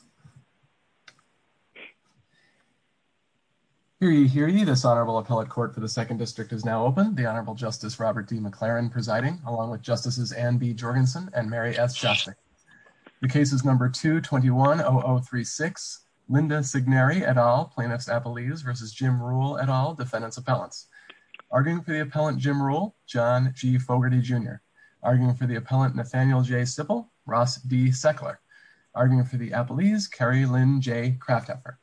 v. Appellant Jim Ruhl, John G. Fogarty Jr., Nathaniel J. Sippel, Ross B. Seckler, Appellant Martinez, Carrie Lynn J. Kraftopper.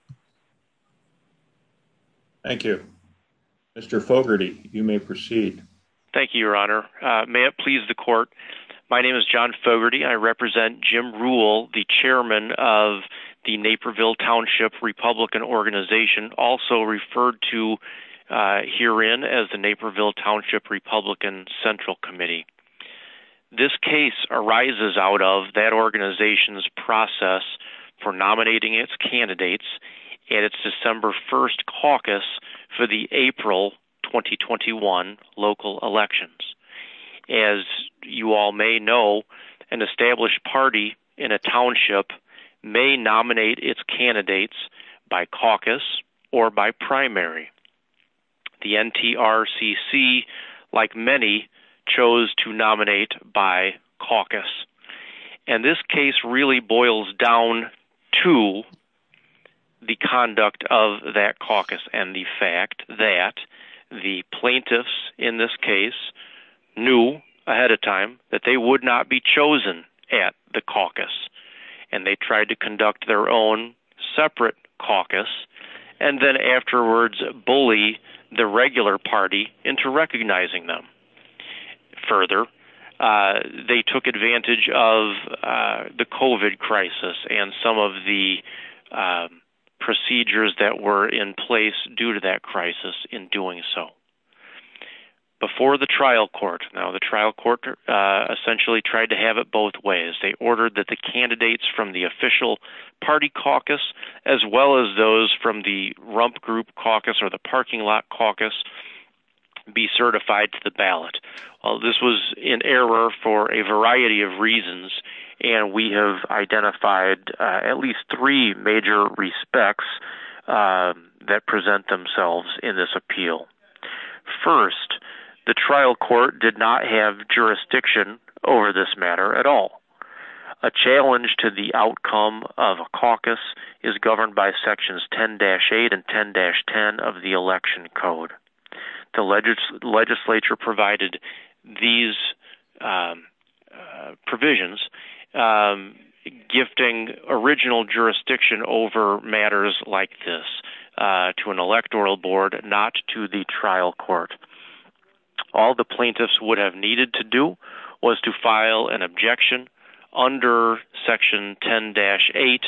Thank you. Mr. Fogarty, you may proceed. Thank you, your honor. May it please the court, my name is John Fogarty and I represent Jim Ruhl, the chairman of the Naperville Township Republican Organization, also referred to herein as the Naperville Township Republican Central Committee. This case arises out of that organization's process for nominating its candidates in its December 1st caucus for the April 2021 local elections. As you all may know, an established party in a township may nominate its candidates by caucus or by primary. The NTRCC, like many, chose to nominate by caucus. And this case really boils down to the conduct of that caucus and the fact that the plaintiffs in this case knew ahead of time that they would not be chosen at the caucus. And they tried to conduct their own separate caucus, and then afterwards bully the regular party into and some of the procedures that were in place due to that crisis in doing so. Before the trial court, now the trial court essentially tried to have it both ways. They ordered that the candidates from the official party caucus, as well as those from the rump group caucus or the parking lot caucus, be certified to the ballot. This was in error for a variety of reasons. And we have identified at least three major respects that present themselves in this appeal. First, the trial court did not have jurisdiction over this matter at all. A challenge to the outcome of a caucus is governed by sections 10-8 and 10-10 of the election code. The legislature provided these provisions, gifting original jurisdiction over matters like this to an electoral board, not to the trial court. All the plaintiffs would have needed to do was to file an objection under section 10-8,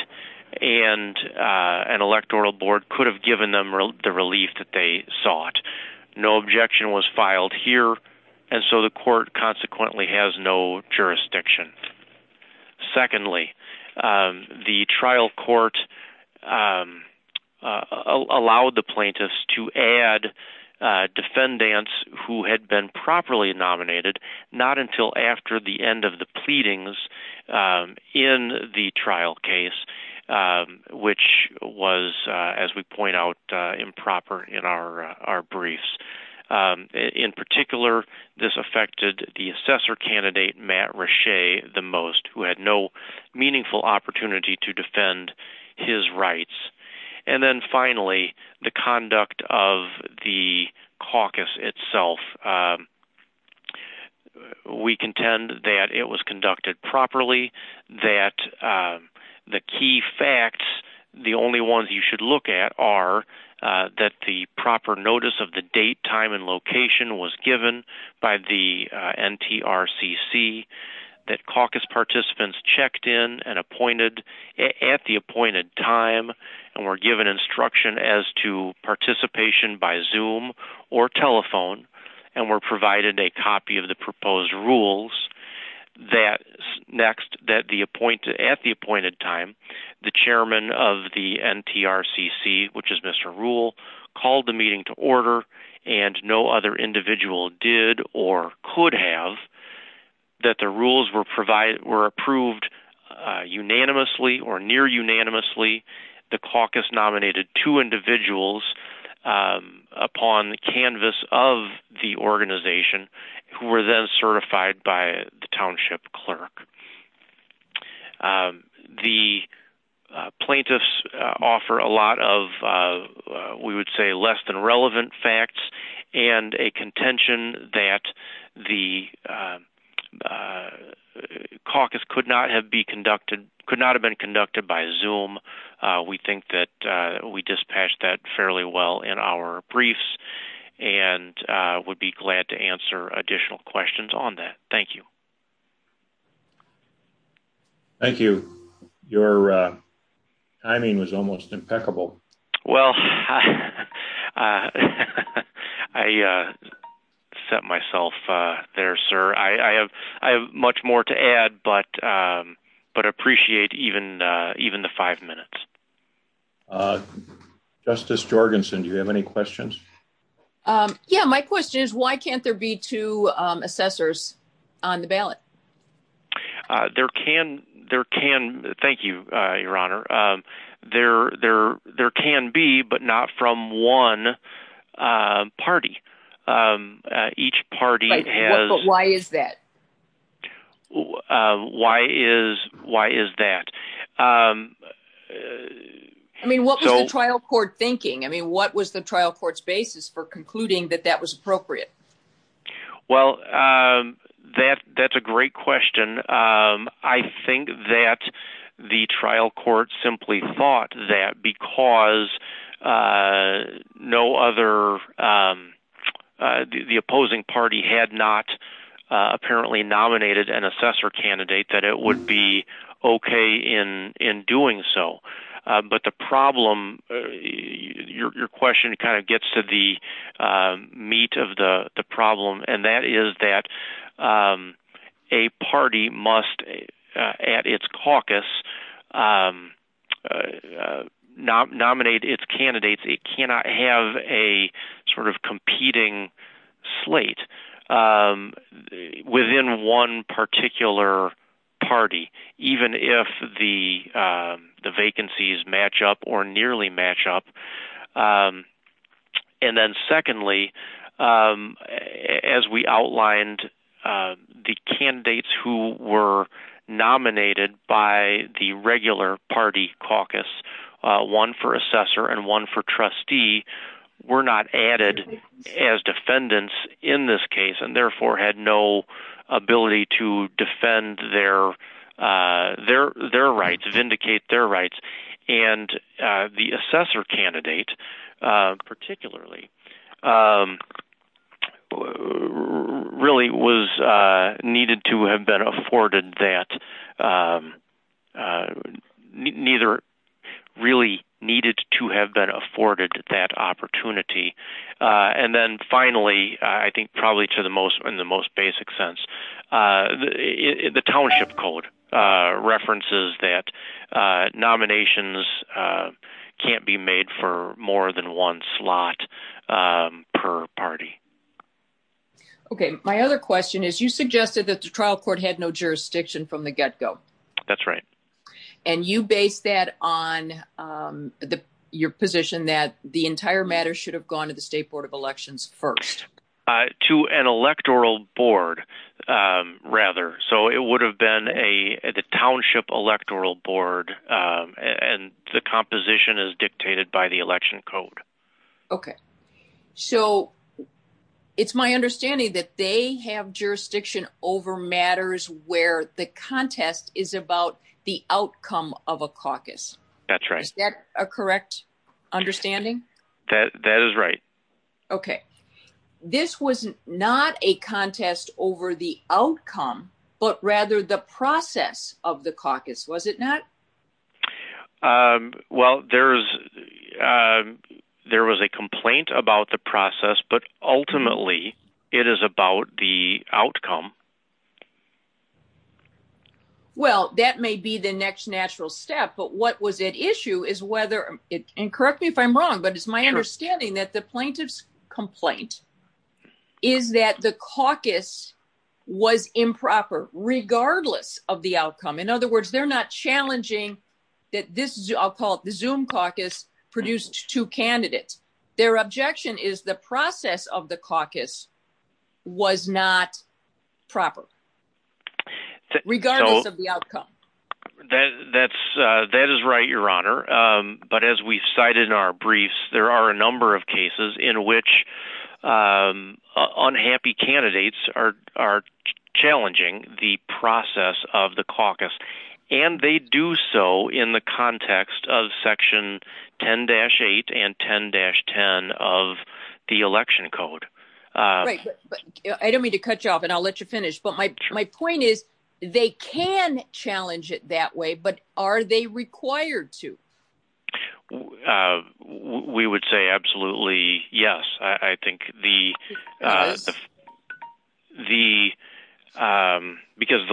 and an electoral board could have given them the relief that they sought. No objection was filed here, and so the court consequently has no jurisdiction. Secondly, the trial court allowed the plaintiffs to add defendants who had been properly nominated, not until after the end of the pleadings in the trial case, which was, as we point out, improper in our briefs. In particular, this affected the assessor candidate, Matt Rasche, the most, who had no meaningful opportunity to defend his rights. And then finally, the conduct of the caucus itself. We contend that it was conducted properly, that the key facts, the only ones you should look at are that the proper notice of the date, time, and location was given by the NTRCC, that caucus participants checked in and appointed at the appointed time, and were given instruction as to participation by Zoom or telephone, and were provided a copy of the proposed rules, that at the appointed time, the chairman of the NTRCC, which is Mr. Rule, called the meeting to order, and no other individual did or could have, that the rules were approved unanimously or near-unanimously. The upon the canvas of the organization, who were then certified by the township clerk. The plaintiffs offer a lot of, we would say, less than relevant facts, and a contention that the caucus could not have been conducted by Zoom. We think that we dispatched that fairly well in our briefs, and would be glad to answer additional questions on that. Thank you. Thank you. Your timing was almost impeccable. Well, I set myself there, sir. I have much more to add, but appreciate even the five minutes. Justice Jorgensen, do you have any questions? Yeah, my question is, why can't there be two assessors on the ballot? There can, there can, thank you, Your Honor. There can be, but not from one party. Each party has... Why is that? I mean, what was the trial court thinking? I mean, what was the trial court's basis for concluding that that was appropriate? Well, that's a great question. I think that the trial court simply thought that because no other, the opposing party had not apparently nominated an assessor candidate, that it would be okay in doing so. But the problem, your question kind of gets to the meat of the problem, and that is that a party must, at its caucus, nominate its candidates. It cannot have a sort of competing slate within one particular party, even if the vacancies match up or nearly match up. And then secondly, as we outlined, the candidates who were nominated by the regular party caucus, one for assessor and one for trustee, were not added as defendants in this case, and therefore had no ability to defend their rights, vindicate their rights. And the assessor candidate, particularly, really was needed to have been afforded that, neither really needed to have been afforded that opportunity. And then finally, I think probably to the most, in the most basic sense, the township code references that nominations can't be made for more than one slot per party. Okay, my other question is, you suggested that the trial court had no jurisdiction from the get-go. That's right. And you base that on your position that the entire matter should have gone to the State Board of Elections first? To an electoral board, rather. So it would have been a township electoral board, and the composition is dictated by the election code. Okay, so it's my understanding that they have jurisdiction over matters where the contest is about the outcome of a caucus. That's right. Is that a correct understanding? That is right. Okay, this was not a contest over the outcome, but rather the process of the caucus, was it not? Well, there was a complaint about the process, but ultimately it is about the outcome. Well, that may be the next natural step, but what was at issue is whether, and correct me if I'm wrong, but it's my understanding that the plaintiff's complaint is that the caucus was improper, regardless of the outcome. In other words, they're not challenging that this, I'll call it the Zoom caucus, produced two candidates. Their objection is the process of the caucus was not proper, regardless of the outcome. That is right, Your Honor, but as we cited in our briefs, there are a number of cases in which unhappy candidates are challenging the process of the caucus, and they do so in the context of section 10-8 and 10-10 of the election code. Right, but I don't mean to cut you off, and I'll let you finish, but my point is they can challenge it that way, but are they required to? We would say absolutely yes. I think because the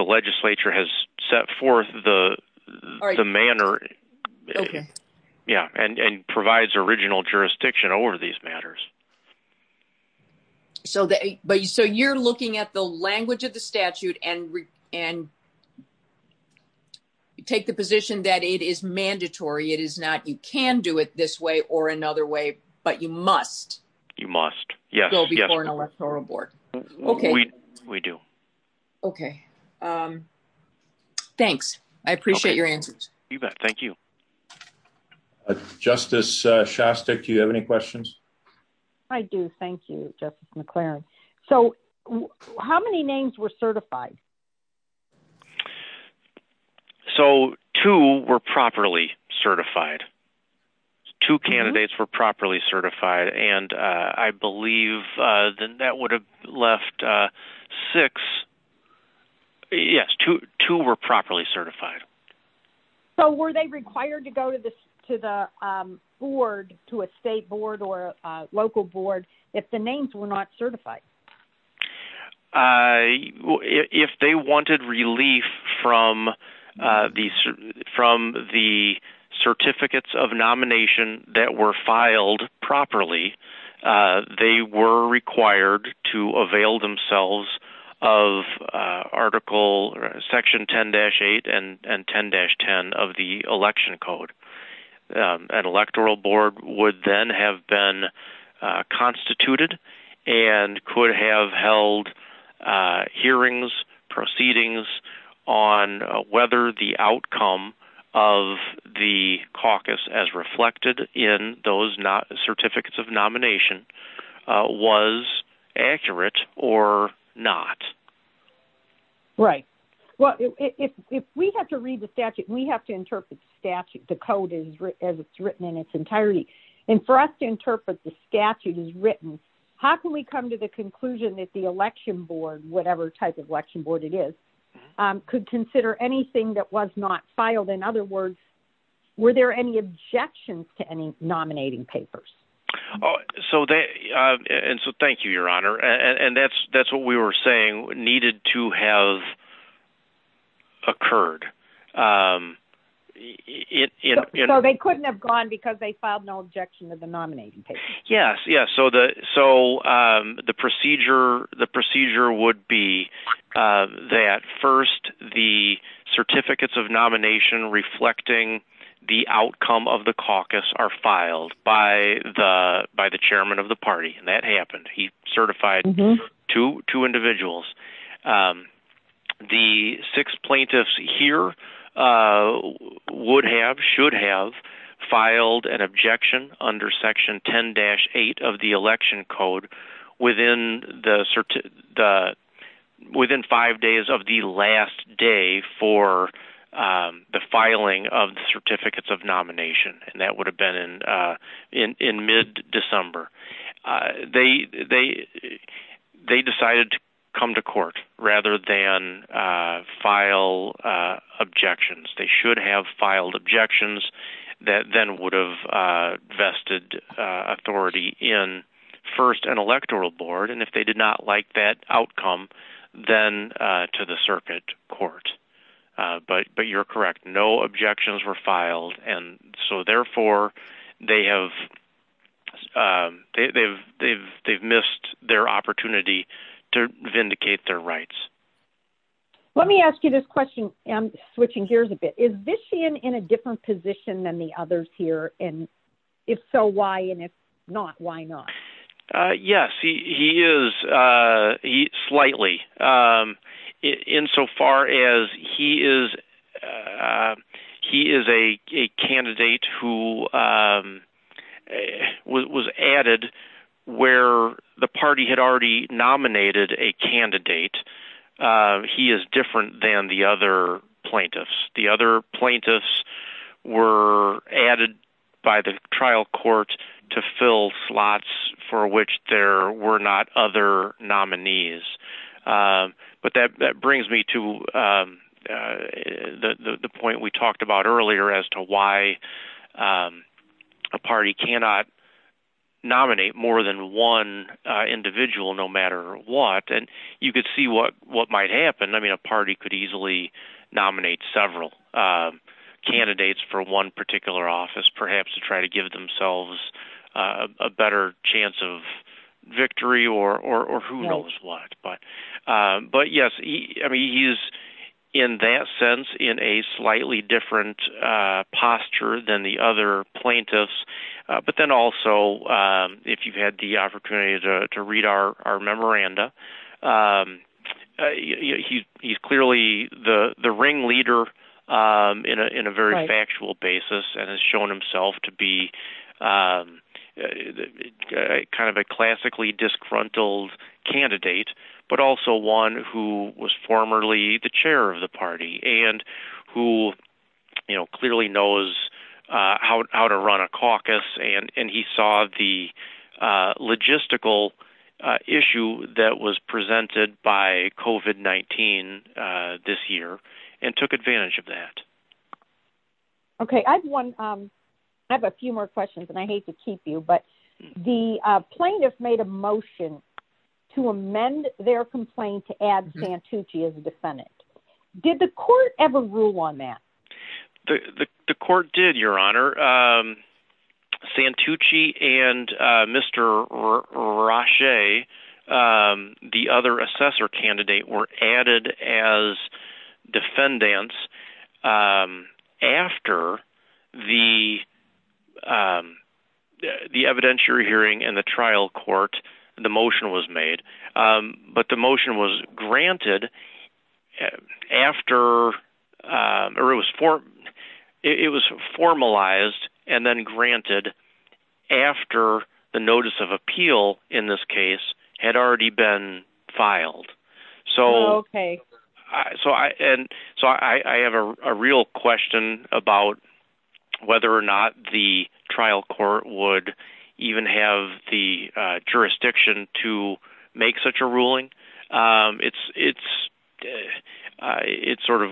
legislature has set forth the manner, yeah, and provides original jurisdiction over these matters. So, you're looking at the language of the statute and you take the position that it is mandatory. It is not you can do it this way or another way, but you must. You must, yes, before an electoral board. Okay, we do. Okay, thanks. I appreciate your answers. You bet. Thank you. Uh, Justice Shostak, do you have any questions? I do. Thank you, Justice McClaren. So, how many names were certified? So, two were properly certified. Two candidates were properly certified, and I believe the net left six. Yes, two were properly certified. So, were they required to go to the board, to a state board or local board, if the names were not certified? If they wanted relief from the certificates of nomination that were filed properly, they were required to avail themselves of section 10-8 and 10-10 of the election code. An electoral board would then have been constituted and could have held hearings, proceedings, on whether the outcome of the caucus, as reflected in those not certificates of nomination, was accurate or not. Right. Well, if we have to read the statute, we have to interpret the statute, the code, as it's written in its entirety. And for us to interpret the statute as written, how can we come to the conclusion that the election board, whatever type of election board it is, could consider anything that was not filed? In other words, were there any objections to any nominating papers? So, thank you, Your Honor. And that's what we were saying needed to have occurred. So, they couldn't have gone because they filed no objection of the nominating papers. Yes, yes. So, the procedure would be that first the certificates of nomination reflecting the outcome of the caucus are filed by the chairman of the party. That happened. He certified two individuals. The six plaintiffs here would have, should have, filed an objection under section 10-8 of the election code within the, within five days of the last day for the filing of the certificates of nomination. And that would have been in mid December. They decided to come to court rather than file objections. They should have filed objections that then would have vested authority in first an electoral board. And if they did not like that outcome, then to the circuit court. But you're correct. No objections were filed. And so, therefore, they have, they've missed their opportunity to vindicate their rights. Let me ask you this question. I'm switching gears a bit. Is Vishian in a different position than the others here? And if so, why? And if not, why not? Yes, he is, he slightly. In so far as he is, he is a candidate who was added where the party had already nominated a candidate. He is different than the other plaintiffs. The other plaintiffs were added by the trial court to fill slots for which there were not other nominees. But that brings me to the point we talked about earlier as to why a party cannot nominate more than one individual, no matter what. And you could see what might happen. I mean, a party could easily nominate several candidates for one particular office, perhaps to try to give themselves a better chance of victory or who knows what. But yes, he is, in that sense, in a slightly different posture than the other plaintiffs. But then also, if you've had the opportunity to read our memoranda, he's clearly the ringleader in a very factual basis and has shown himself to be a kind of a classically disgruntled candidate, but also one who was formerly the chair of the party and who clearly knows how to run a caucus. And he saw the logistical issue that was presented by COVID-19 this year and took advantage of that. Okay, I have a few more questions, and I hate to keep you, but the plaintiffs made a motion to amend their complaint to add Santucci as a defendant. Did the court ever rule on that? The court did, Your Honor. Santucci and Mr. Roche, the other assessor candidate, were added as defendants after the evidentiary hearing in the trial court, the motion was made. But the motion was granted after, or it was formalized and then granted after the notice of appeal, in this case, had already been filed. So I have a real question about whether or not the trial court would even have the jurisdiction to make such a ruling. It sort of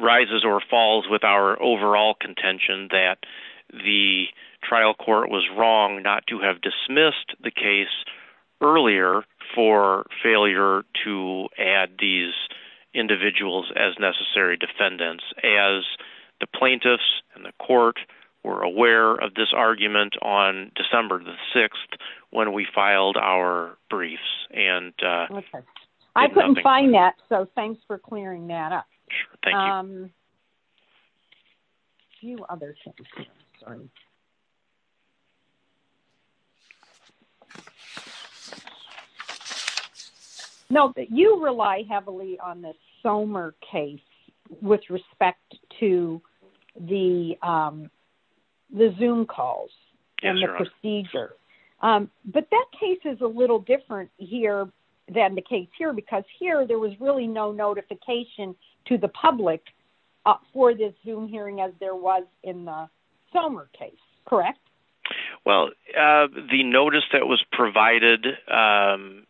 rises or falls with our overall contention that the trial court was wrong not to have dismissed the case earlier for failure to add these individuals as necessary defendants, as the plaintiffs and the court were aware of this argument on December the 6th, when we filed our briefs. I couldn't find that, so thanks for clearing that up. You rely heavily on the Somer case with respect to the Zoom calls and the procedure. But that case is a little different here than the case here, because here there was really no notification to the public for this Zoom hearing as there was in the Somer case, correct? Well, the notice that was provided to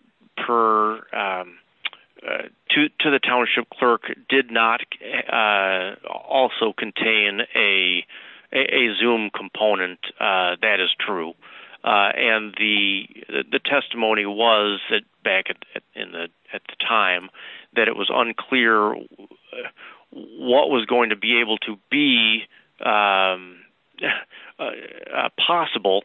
the township clerk did not also contain a Zoom component, that is true. And the testimony was back at the time that it was unclear what was going to be able to be possible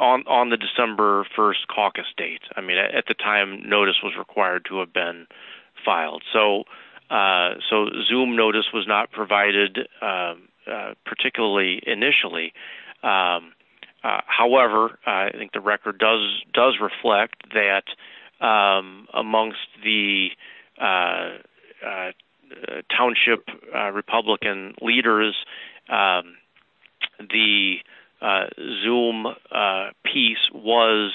on the December 1st caucus date. I mean, at the notice was required to have been filed. So Zoom notice was not provided particularly initially. However, I think the record does reflect that amongst the township Republican leaders, the Zoom piece was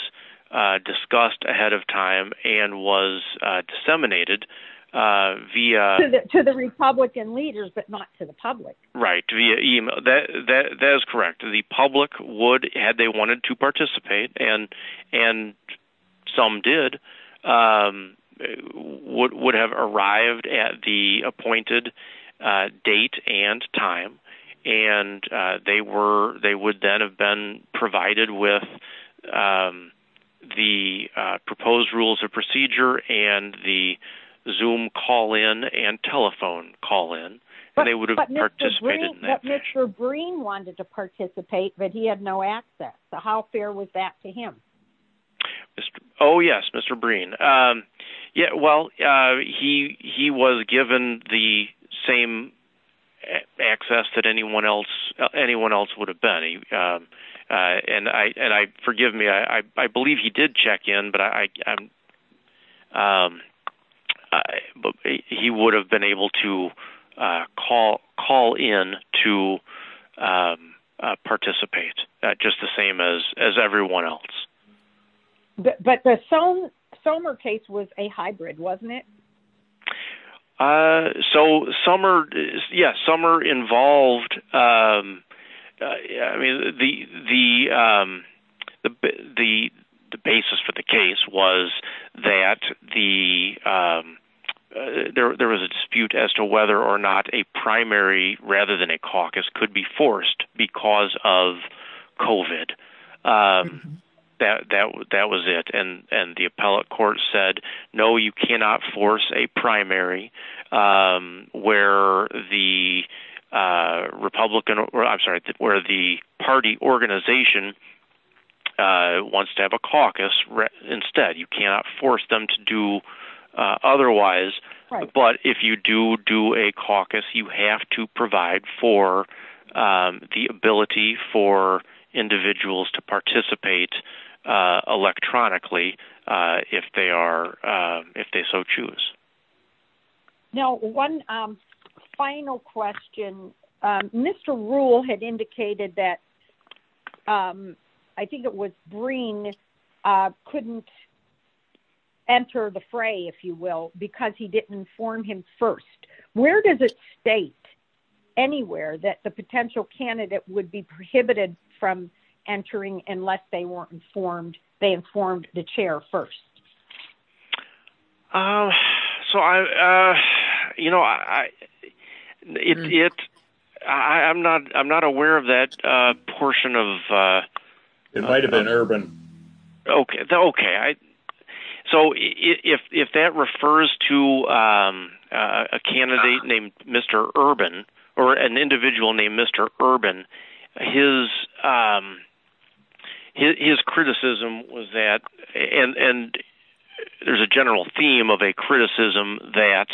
discussed ahead of time and was disseminated via... To the Republican leaders, but not to the public. Right, that is correct. The public would, had they wanted to participate, and some did, would have arrived at the appointed date and time. And they would then have been provided with the proposed rules of procedure and the Zoom call-in and telephone call-in. But Mr. Breen wanted to participate, but he had no access. So how fair was that to him? Oh, yes, Mr. Breen. Yeah, well, he was given the same access that anyone else would have been. And forgive me, I believe he did check in, but he would have been able to call in to participate, just the same as everyone else. But the Sommer case was a hybrid, wasn't it? So Sommer, yes, Sommer involved... The basis for the case was that there was a dispute as to whether or not a primary rather than a caucus could be forced because of COVID. That was it. And the appellate court said, no, you cannot force a primary where the party organization wants to have a caucus. Instead, you cannot force them to do otherwise. But if you do do a caucus, you have to provide for the ability for individuals to participate electronically if they so choose. Now, one final question. Mr. Ruhl had indicated that I think it was Breen couldn't enter the fray, if you will, because he didn't inform him first. Where does it state anywhere that the potential candidate would be prohibited from entering unless they were informed, they informed the chair first? I'm not aware of that portion of... It might have been Urban. Okay. So if that refers to a candidate named Mr. Urban or an individual named Mr. Urban, his criticism was that... And there's a general theme of a criticism that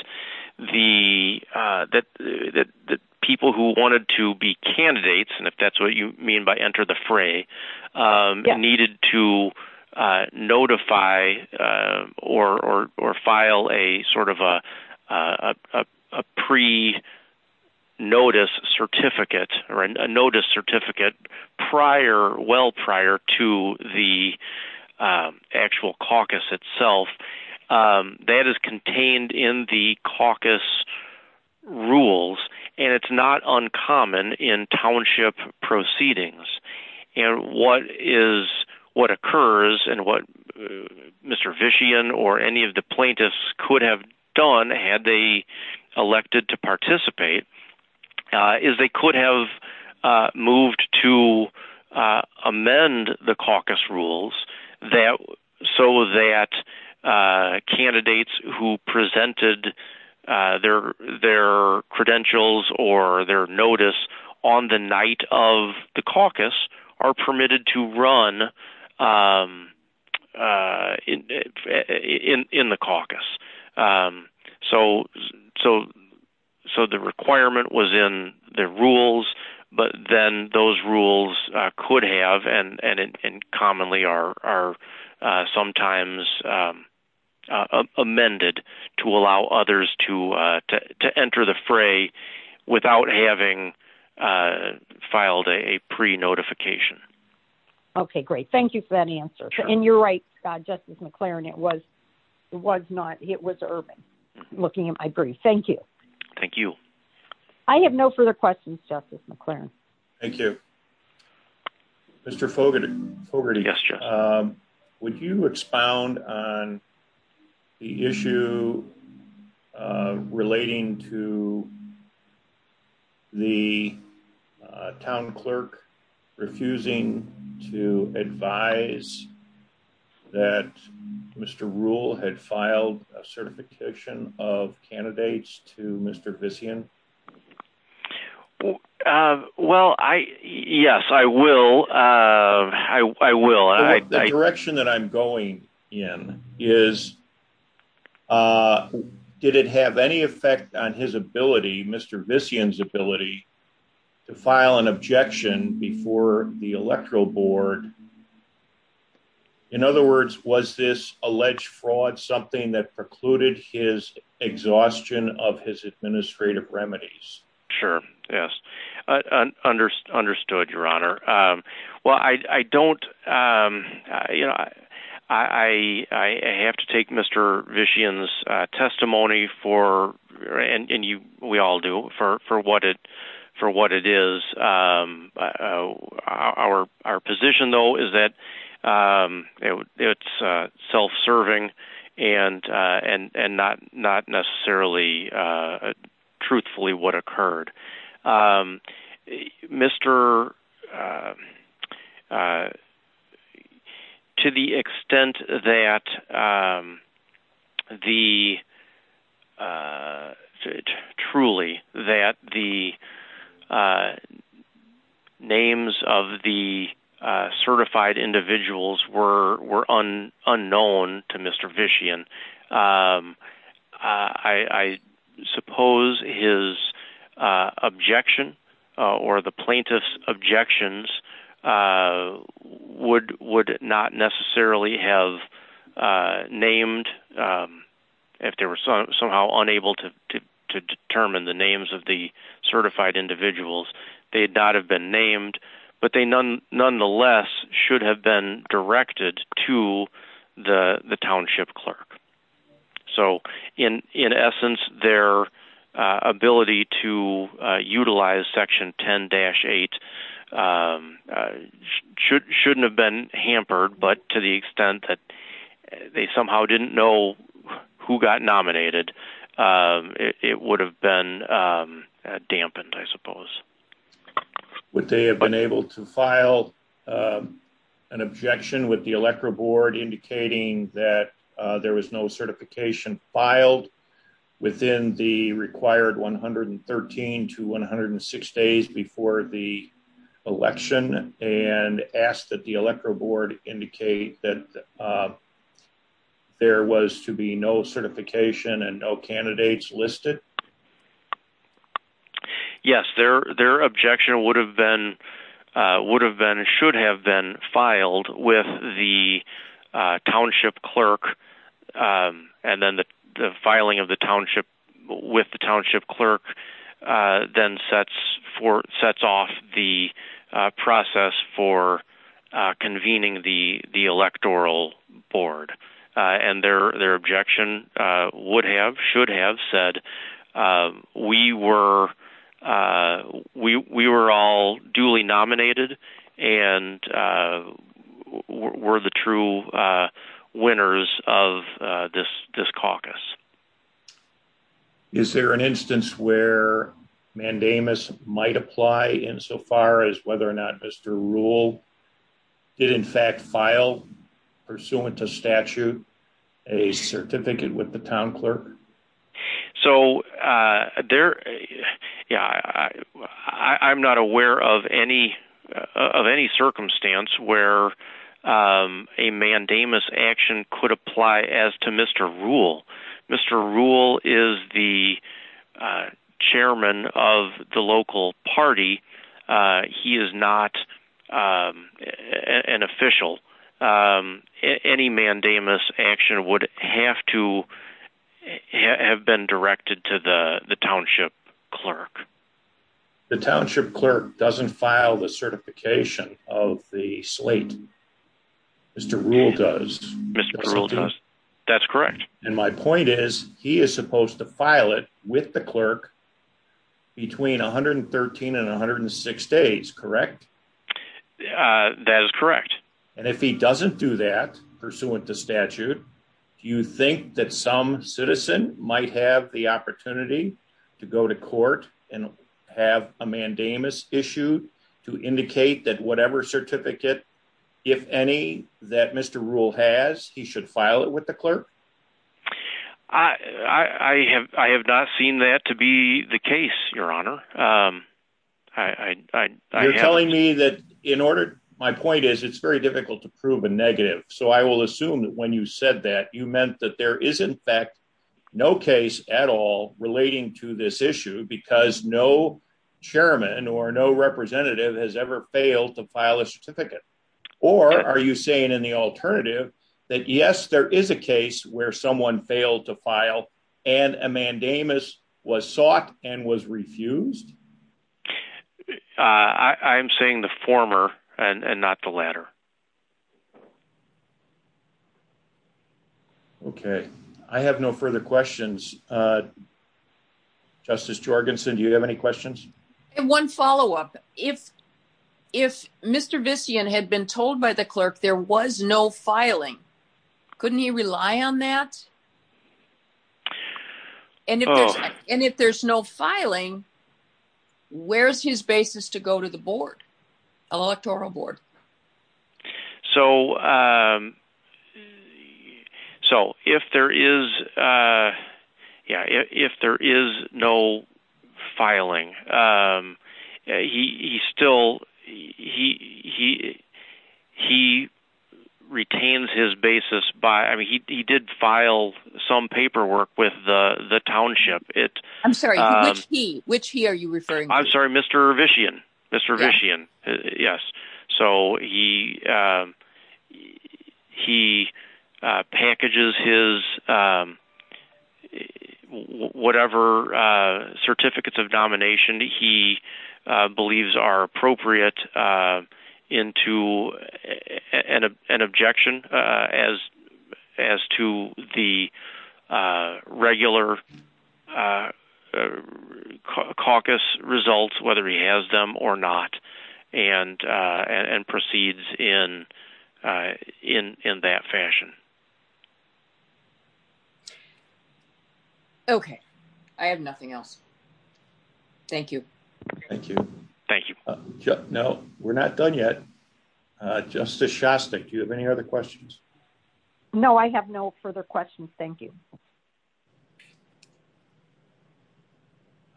people who wanted to be candidates, and if that's what you mean by enter the fray, needed to notify or file a sort of notice certificate well prior to the actual caucus itself, that is contained in the caucus rules. And it's not uncommon in township proceedings. And what occurs and what Mr. Vishian or any of the plaintiffs could have done had they elected to participate is they could have moved to amend the caucus rules so that candidates who presented their credentials or their notice on the night of the caucus are permitted to run in the caucus. So the requirement was in the rules, but then those rules could have, and commonly are sometimes amended to allow others to enter the fray without having filed a pre-notification. Okay, great. Thank you for that answer. And you're right, Justice McLaren, it was not... It was Urban looking at... I agree. Thank you. Thank you. I have no further questions, Justice McLaren. Thank you. Mr. Fogarty, would you expound on the issue relating to the town clerk refusing to advise that Mr. Ruhle had filed a certification of candidates to Mr. Vishian? Well, yes, I will. I will. The direction that I'm going in is did it have any effect on Mr. Vishian's ability to file an objection before the electoral board? In other words, was this alleged fraud something that precluded his exhaustion of his administrative remedies? Sure, yes. Understood, Your Honor. Well, I don't... I have to take Mr. Vishian's testimony for, and we all do, for what it is. Our position, though, is that it's self-serving and not necessarily truthfully what occurred. Mr... To the extent that the... Truly, that the names of the certified individuals were unknown to Mr. Vishian, I suppose his objection or the plaintiff's objections would not necessarily have named, if they were somehow unable to determine the names of the certified individuals, they'd not have been named, but they nonetheless should have been directed to the township clerk. So, in essence, their ability to utilize Section 10-8 shouldn't have been hampered, but to the extent that they somehow didn't know who got nominated, it would have been dampened, I suppose. Would they have been able to file an objection with the electoral board indicating that there was no certification filed within the required 113 to 106 days before the election and ask that the electoral board indicate that there was to be no certification and no candidates listed? Yes, their objection would have been, should have been filed with the township clerk and then the filing of the township with the township clerk then sets off the process for convening the We were all duly nominated and were the true winners of this caucus. Is there an instance where Mandamus might apply insofar as whether or not Mr. Rule did in fact file, pursuant to statute, a certificate with the town clerk? So, I'm not aware of any circumstance where a Mandamus action could apply as to Mr. Rule. Mr. Rule is the chairman of the local party. He is not an official. Any Mandamus action would have to have been directed to the township clerk. The township clerk doesn't file the certification of the slate. Mr. Rule does. Mr. Rule does. That's correct. And my point is he is supposed to file it with the clerk between 113 and 106 days, correct? That is correct. And if he doesn't do that, pursuant to statute, do you think that some citizen might have the opportunity to go to court and have a Mandamus issued to indicate that whatever certificate, if any, that Mr. Rule has, he should file it with the clerk? I have not seen that to be the case, your honor. You're telling me that in order, my point is it's very difficult to prove a negative. So, I will assume that when you said that, you meant that there is in fact no case at all relating to this issue because no chairman or no representative has ever failed to file a certificate. Or are you saying in the alternative that yes, there is a case where someone failed to file and a Mandamus was sought and was refused? I'm saying the former and not the latter. Okay. I have no further questions. Justice Jorgensen, do you have any questions? One follow-up. If Mr. Vissian had been told by the clerk there was no filing, couldn't he rely on that? And if there's no filing, where's his basis to go to the board, electoral board? So, if there is no filing, he still, he retains his basis by, I mean, he did file some paperwork with the township. I'm sorry, which he? Which he are you referring to? I'm sorry, Mr. Vissian. Mr. Vissian. Yes. So, he packages his whatever certificates of domination he believes are appropriate into an objection as to the regular caucus results, whether he has them or not, and proceeds in that fashion. Okay. I have nothing else. Thank you. Thank you. Thank you. No, we're not done yet. Justice Shostak, do you have any other questions? No, I have no further questions. Thank you.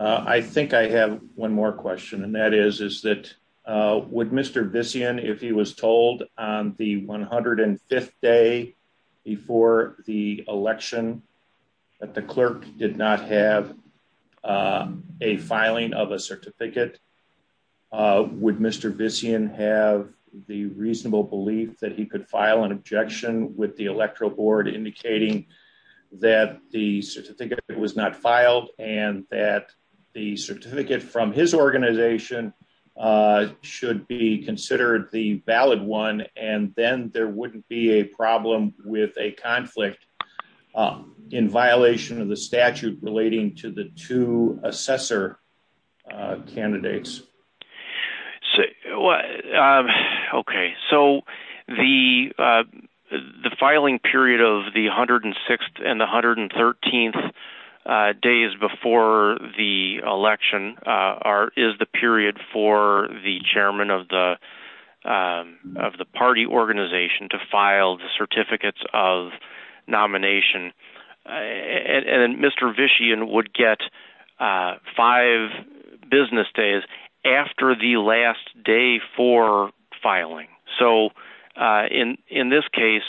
I think I have one more question, and that is, is that would Mr. Vissian, if he was told on the 105th day before the election that the clerk did not have a filing of a certificate, would Mr. Vissian have the reasonable belief that he could file an objection with the electoral board indicating that the certificate was not filed and that the certificate from his organization should be considered the valid one, and then there wouldn't be a problem with a conflict in violation of the statute relating to the two assessor candidates? Okay. So, the filing period of the 106th and the 113th days before the election is the period for the chairman of the party organization to file the certificates of nomination, and Mr. Vissian would get five business days after the last day for filing. So, in this case,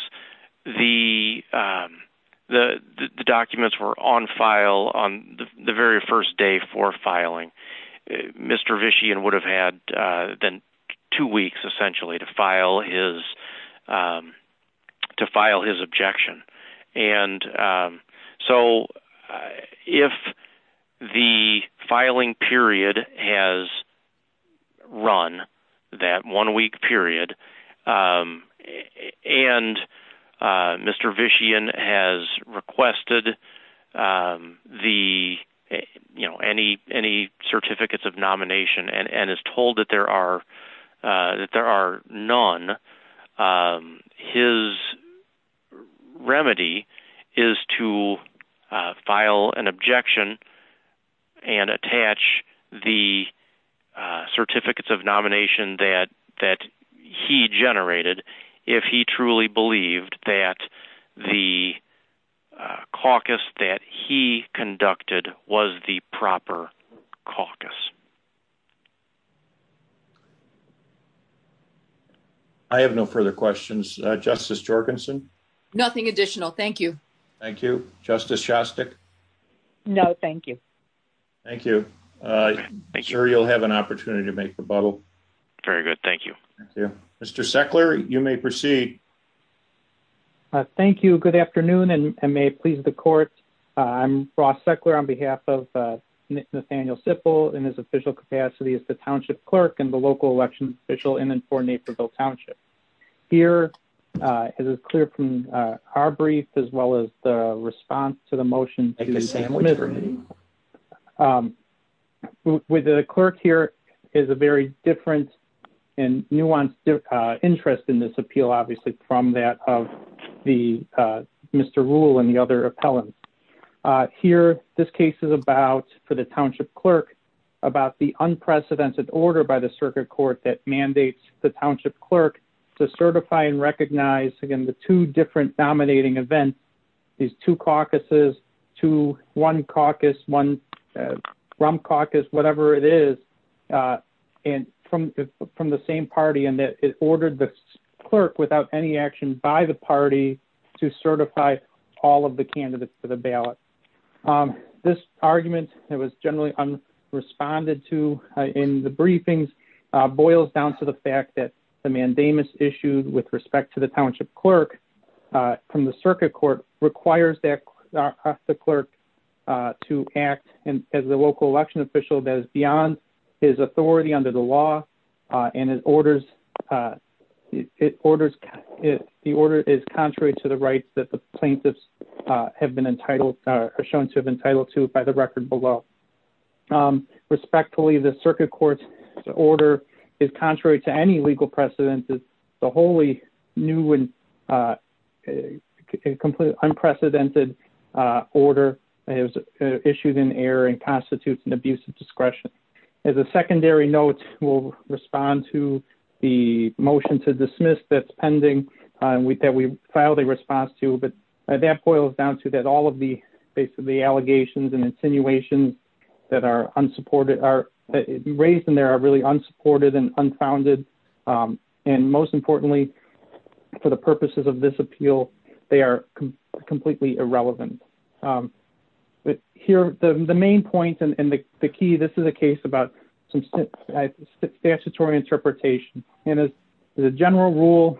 the documents were on file on the very first day for filing. Mr. Vissian would have had then two weeks, essentially, to file his objection. And so, if the filing period has run, that one week period, and Mr. Vissian has requested any certificates of nomination and is the certificates of nomination that he generated, if he truly believed that the caucus that he conducted was the proper caucus. I have no further questions. Justice Jorgenson? Nothing additional. Thank you. Thank you. Justice Shostak? No, thank you. Thank you. I'm sure you'll have an opportunity to make rebuttal. Very good. Thank you. Mr. Seckler, you may proceed. Thank you. Good afternoon, and may it please the court. I'm Ross Seckler on behalf of Nathaniel Siffel in his official capacity as the township clerk and the local election official in and for Naperville Township. Here, it is clear from our brief as well as the response to the motion. With the clerk here is a very different and nuanced interest in this appeal, obviously, from that of the Mr. Rule and the other appellant. Here, this case is about, for the township clerk, about the unprecedented order by the circuit court that mandates the township clerk to certify and recognize, again, the two different dominating events, these two caucuses, two, one caucus, one grump caucus, whatever it is, from the same party, and that it ordered the clerk, without any action by the party, to certify all of the candidates for the ballot. This argument that was generally unresponded to in the briefings boils down to the fact that the mandamus issued with respect to the township clerk from the circuit court requires the clerk to act as the local election official that is beyond his authority under the law, and the order is contrary to the rights that the plaintiffs have been entitled or are shown to have been entitled to by the record below. Respectfully, the circuit court's order is contrary to any legal precedence. The wholly new and unprecedented order is issued in error and constitutes an abuse of discretion. As a secondary note, we'll respond to the motion to dismiss that's pending that we filed a response to, but that boils down to that all of the allegations and insinuations that are raised in are really unsupported and unfounded, and most importantly, for the purposes of this appeal, they are completely irrelevant. Here, the main point and the key, this is a case about statutory interpretation, and as a general rule,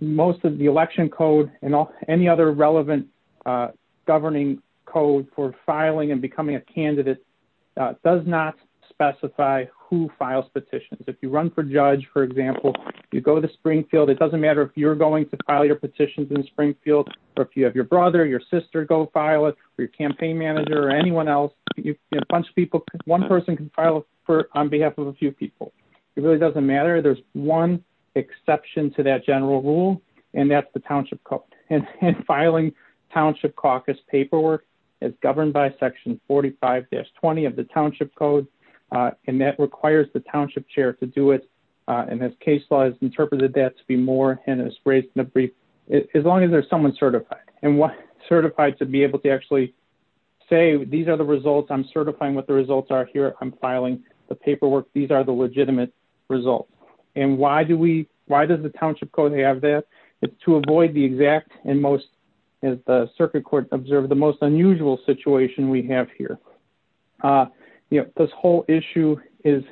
most of the election code and any other relevant governing code for filing and becoming a candidate does not specify who files petitions. If you run for judge, for example, you go to Springfield, it doesn't matter if you're going to file your petitions in Springfield or if you have your brother or your sister go file it or your campaign manager or anyone else. One person can file it on behalf of a few people. It really doesn't matter. There's one exception to that general rule, and that's the township code, and filing township caucus paperwork is governed by section 45-20 of the township code, and that requires the township chair to do it, and as case law has interpreted that to be more as long as there's someone certified, and what certified to be able to actually say these are the results. I'm certifying what the results are here. I'm filing the paperwork. These are the legitimate results, and why do we why does the township code have that? To avoid the exact and most, as the circuit court observed, the most unusual situation we have here. This whole issue is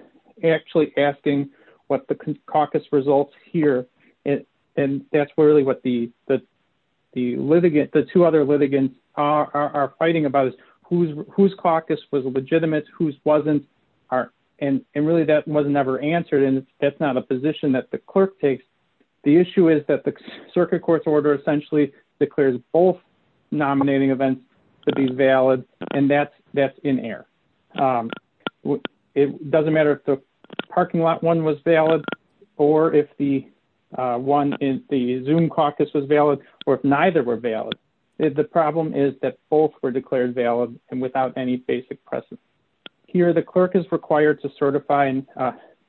actually asking what the caucus results here, and that's really what the litigant, the two other litigants are fighting about is whose caucus was legitimate, whose wasn't, and really that was never answered, and that's not a position that the clerk takes. The issue is that the circuit court's order essentially declares both nominating events to be valid, and that's in error. It doesn't matter if the parking lot one was valid, or if the one in the Zoom caucus was valid, or if neither were valid. The problem is that both were declared valid and without any basic precedent. Here the clerk is required to certify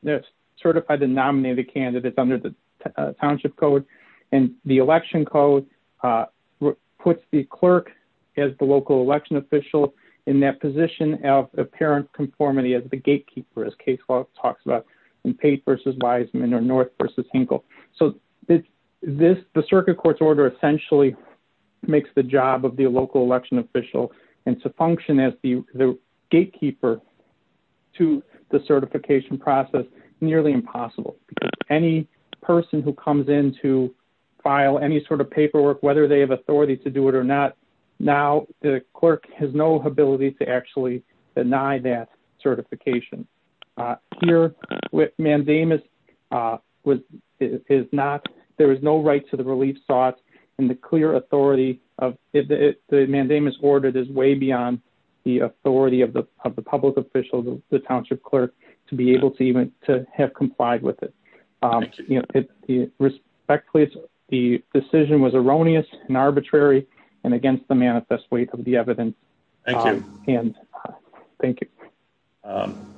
that certified to nominate a candidate under the township code, and the election code puts the clerk as the local election official in that position of apparent conformity as the gatekeeper, as Casewell talks about in Pate versus Wiseman or North versus Hinkle. So this the circuit court's order essentially makes the job of the local election official, and to function as the gatekeeper to the certification process nearly impossible, because any person who comes in to file any sort of paperwork, whether they have authority to do it or not, now the clerk has no ability to actually deny that certification. Here with Mandamus was is not there was no right to the relief sauce, and the clear authority of the Mandamus order is way beyond the authority of the of the public official, the township clerk, to be able to even to have complied with it. Respectfully, the decision was erroneous and arbitrary and against the manifest weight of the evidence. Thank you. Um,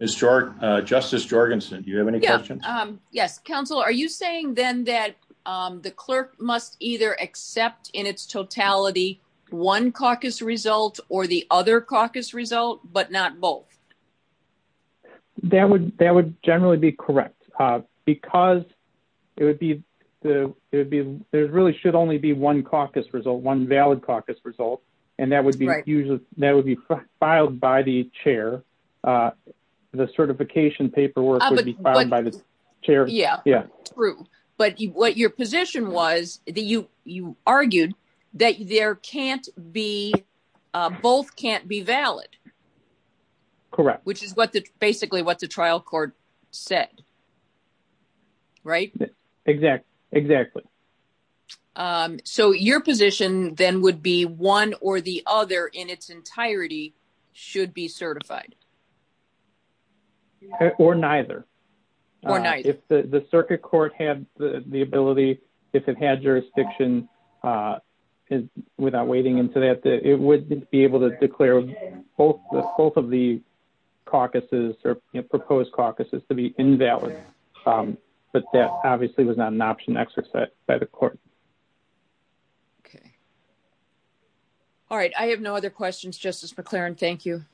Mr. Justice Jorgensen, do you have any questions? Yes, counsel, are you saying then that the clerk must either accept in its totality one caucus result or the other caucus result, but not both? That would that would generally be correct, because it would be the it would be there really should only be one caucus result, one valid caucus result, and that would be usually that would be filed by the chair. The certification paperwork would be filed by the chair. Yeah, yeah, true. But what your position was that you you argued that there can't be both can't be valid. Correct. Which is what the basically what the trial court said. Right, exactly. So your position then would be one or the other in its entirety should be certified. Or neither. If the circuit court had the ability, if it had jurisdiction, without wading into that, it would be able to declare both of the caucuses or proposed um, but that obviously was not an option. That's just that the court. Okay. All right. I have no other questions. Justice McClaren. Thank you.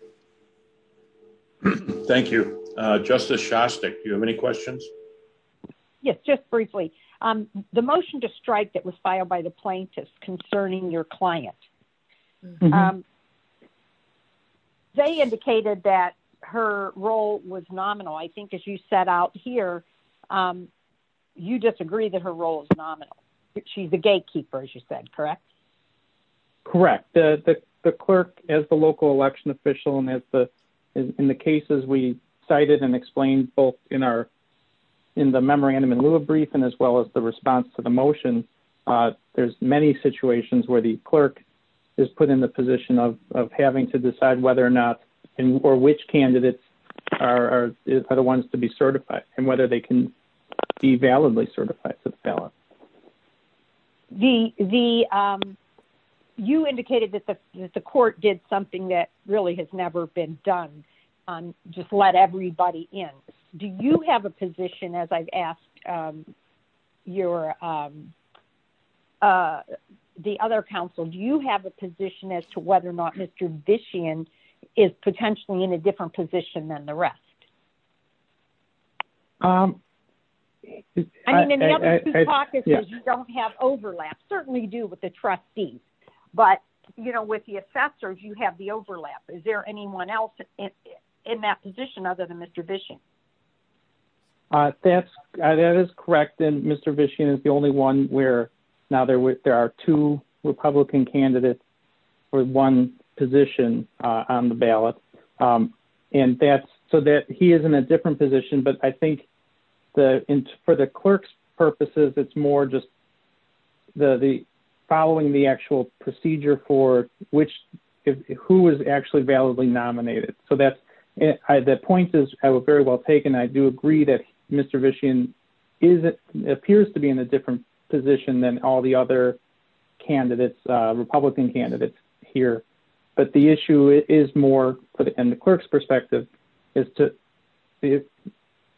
Thank you, Justice Shostak. Do you have any questions? Yes, just briefly. The motion to strike that was filed by the plaintiffs concerning your client. Um, they indicated that her role was nominal, I think, as you set out here. You disagree that her role is nominal. She's the gatekeeper, as you said, correct? Correct. The clerk as the local election official and as the in the cases we cited and explained both in our in the memorandum in lieu of brief and as well as the response to the motion. There's many situations where the clerk is put in the position of having to decide whether or not and or which candidates are the ones to be certified and whether they can be validly certified to the ballot. You indicated that the court did something that really has never been done on just let everybody in. Do you have a position as I've asked um your um uh the other counsel do you have a position as to whether or not Mr. Bishan is potentially in a different position than the rest? Um, I don't have overlap, certainly do with the trustees, but you know with the assessors you have the overlap. Is there anyone else in that position other than Mr. Bishan? Uh that's that is correct and Mr. Bishan is the only one where now there are two Republican candidates for one position uh on the ballot um and that's so that he is in a different position but I think the for the clerk's purposes it's more just the the following the actual procedure for which who is actually validly nominated so that's the point is I very well taken I do agree that Mr. Bishan is it appears to be in a different position than all the other candidates uh Republican candidates here but the issue is more in the clerk's perspective is to if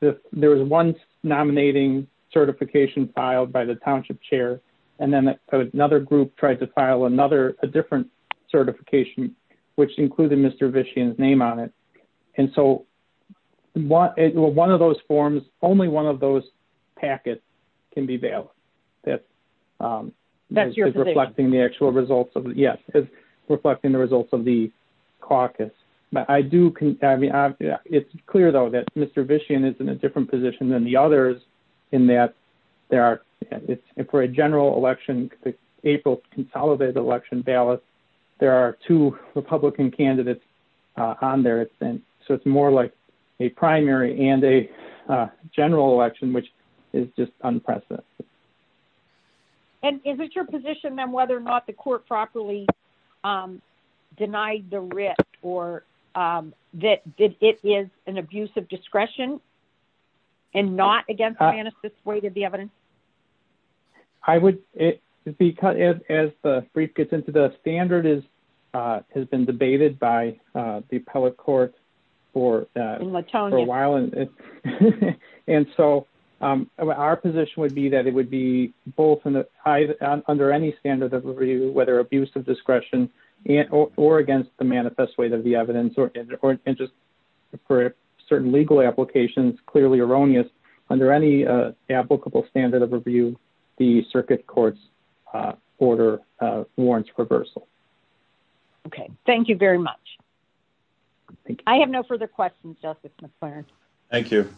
there was one nominating certification filed by the township chair and then another group tried to file another a different certification which included Mr. Bishan's and so what one of those forms only one of those packets can be bailed that's um that's reflecting the actual results of yes reflecting the results of the caucus but I do I mean it's clear though that Mr. Bishan is in a different position than the others in that there are for a general election April consolidated election ballots there are two Republican candidates on there it's been so it's more like a primary and a general election which is just unprecedented and is it your position then whether or not the court properly um denied the writ or um that it is an abuse of discretion and not against the weight of the evidence I would it because as the brief gets into the standard is uh has been debated by uh the appellate court for uh a while and so um our position would be that it would be both in the eyes under any standard of liberty whether abuse of discretion and or against the manifest weight of the evidence or and just for certain legal applications clearly erroneous under any uh applicable standard of review the circuit court's uh order uh warrants reversal okay thank you very much I have no further questions justice McClaren thank you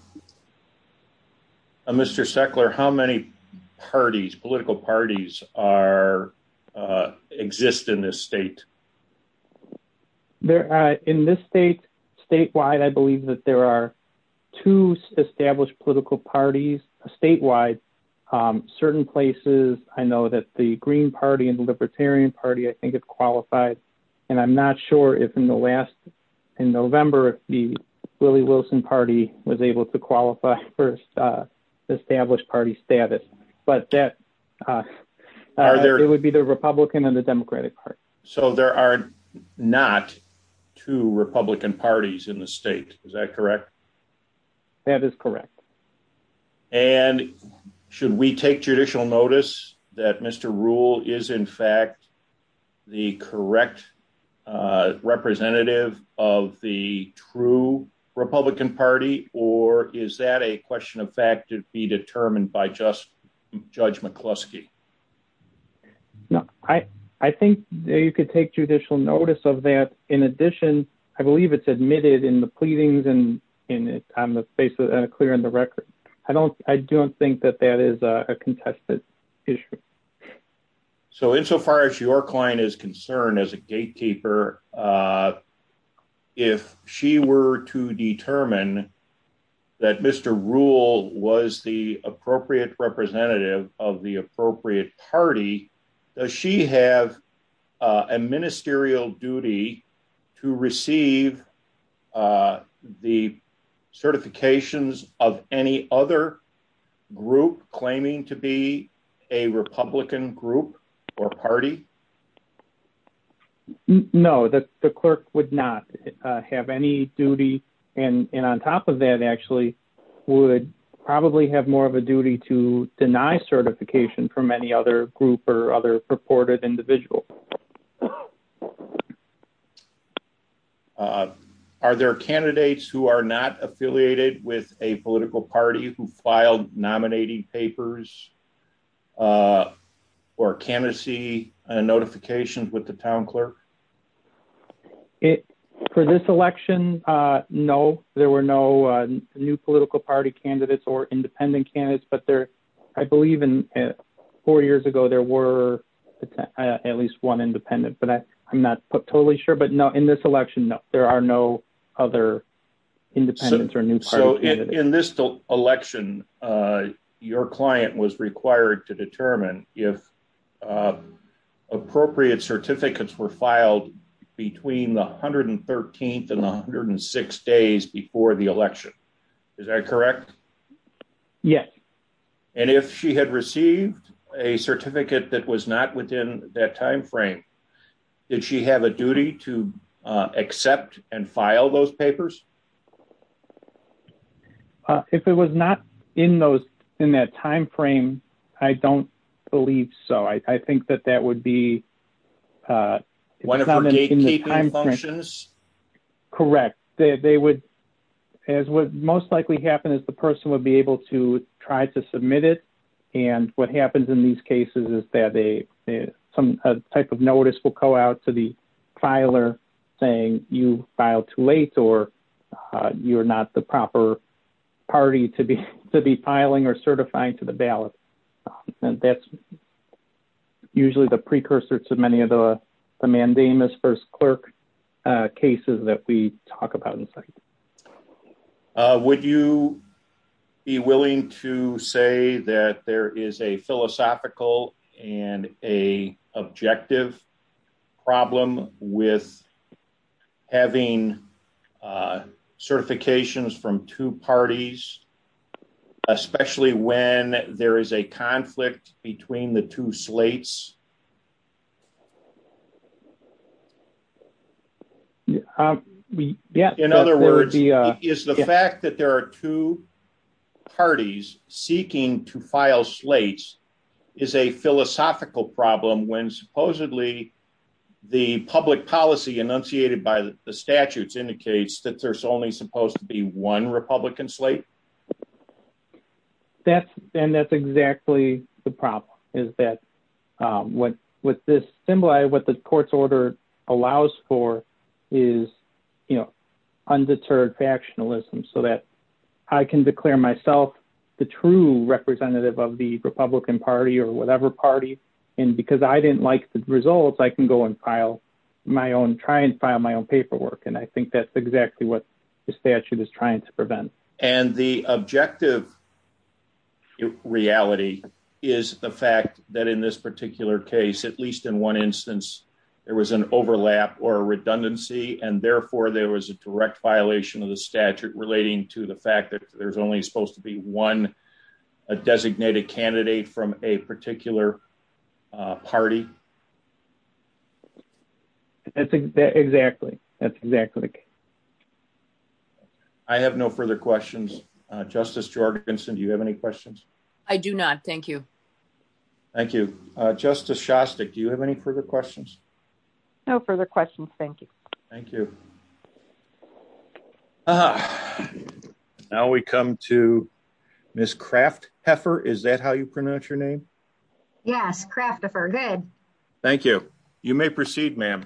Mr. Seckler how many parties political parties are uh exist in this state there are in this state statewide I believe that there are two established political parties statewide um certain places I know that the Green Party and the Libertarian Party I think it's qualified and I'm not sure if in the last in November if the Wilson Party was able to qualify for established party status but that uh it would be the Republican and the Democratic Party so there are not two Republican parties in the state is that correct that is correct and should we take judicial notice that Mr. Rule is in Republican Party or is that a question of fact to be determined by just Judge McCluskey no I I think you could take judicial notice of that in addition I believe it's admitted in the pleadings and in it on the basis of clearing the record I don't I don't think that that is a contested issue so insofar as your client is concerned as a gatekeeper uh she were to determine that Mr. Rule was the appropriate representative of the appropriate party does she have a ministerial duty to receive uh the certifications of any other group claiming to be a Republican group or party no the the clerk would not have any duty and and on top of that actually would probably have more of a duty to deny certification from any other group or other supportive individual uh are there candidates who are not affiliated with a political party who filed nominating papers or candidacy and notifications with the town clerk it for this election uh no there were no new political party candidates or independent candidates but there I believe in four years ago there were at least one independent but I I'm not totally sure but no in this election no there are no other independents or new so in this election uh your client was required to determine if uh appropriate certificates were filed between the 113th and 106 days before the election is that correct yes and if she had received a certificate that was not within that time frame did she have a duty to uh accept and file those papers uh if it was not in those in that time frame I don't believe so I think that that would be uh one of the functions correct they would as what most likely happen is the person would be able to try to submit it and what happens in these cases is that they some type of notice will go out to the filer saying you filed too late or you're not the proper party to be to be to many of the mandamus first clerk uh cases that we talk about in the second uh would you be willing to say that there is a philosophical and a objective problem with having certifications from two parties especially when there is a conflict between the two slates um yeah in other words is the fact that there are two parties seeking to file slates is a philosophical problem when supposedly the public policy enunciated by the statutes indicates that there's only supposed to be one republican slate that's and that's exactly the problem is that um what what this symbolized what the court's order allows for is you know undeterred factionalism so that I can declare myself the true representative of the republican party or whatever party and because I didn't like the results I can go and file my own try and file my own paperwork and I think that's exactly what the statute is trying to prevent and the objective is reality is the fact that in this particular case at least in one instance there was an overlap or a redundancy and therefore there was a direct violation of the statute relating to the fact that there's only supposed to be one a designated candidate from a particular uh party that's exactly that's exactly I have no further questions uh justice georgia vinson do you have any questions I do not thank you thank you uh justice shostik do you have any further questions no further questions thank you thank you now we come to miss craft heifer is that how you pronounce your name yes craft the fur good thank you you may proceed ma'am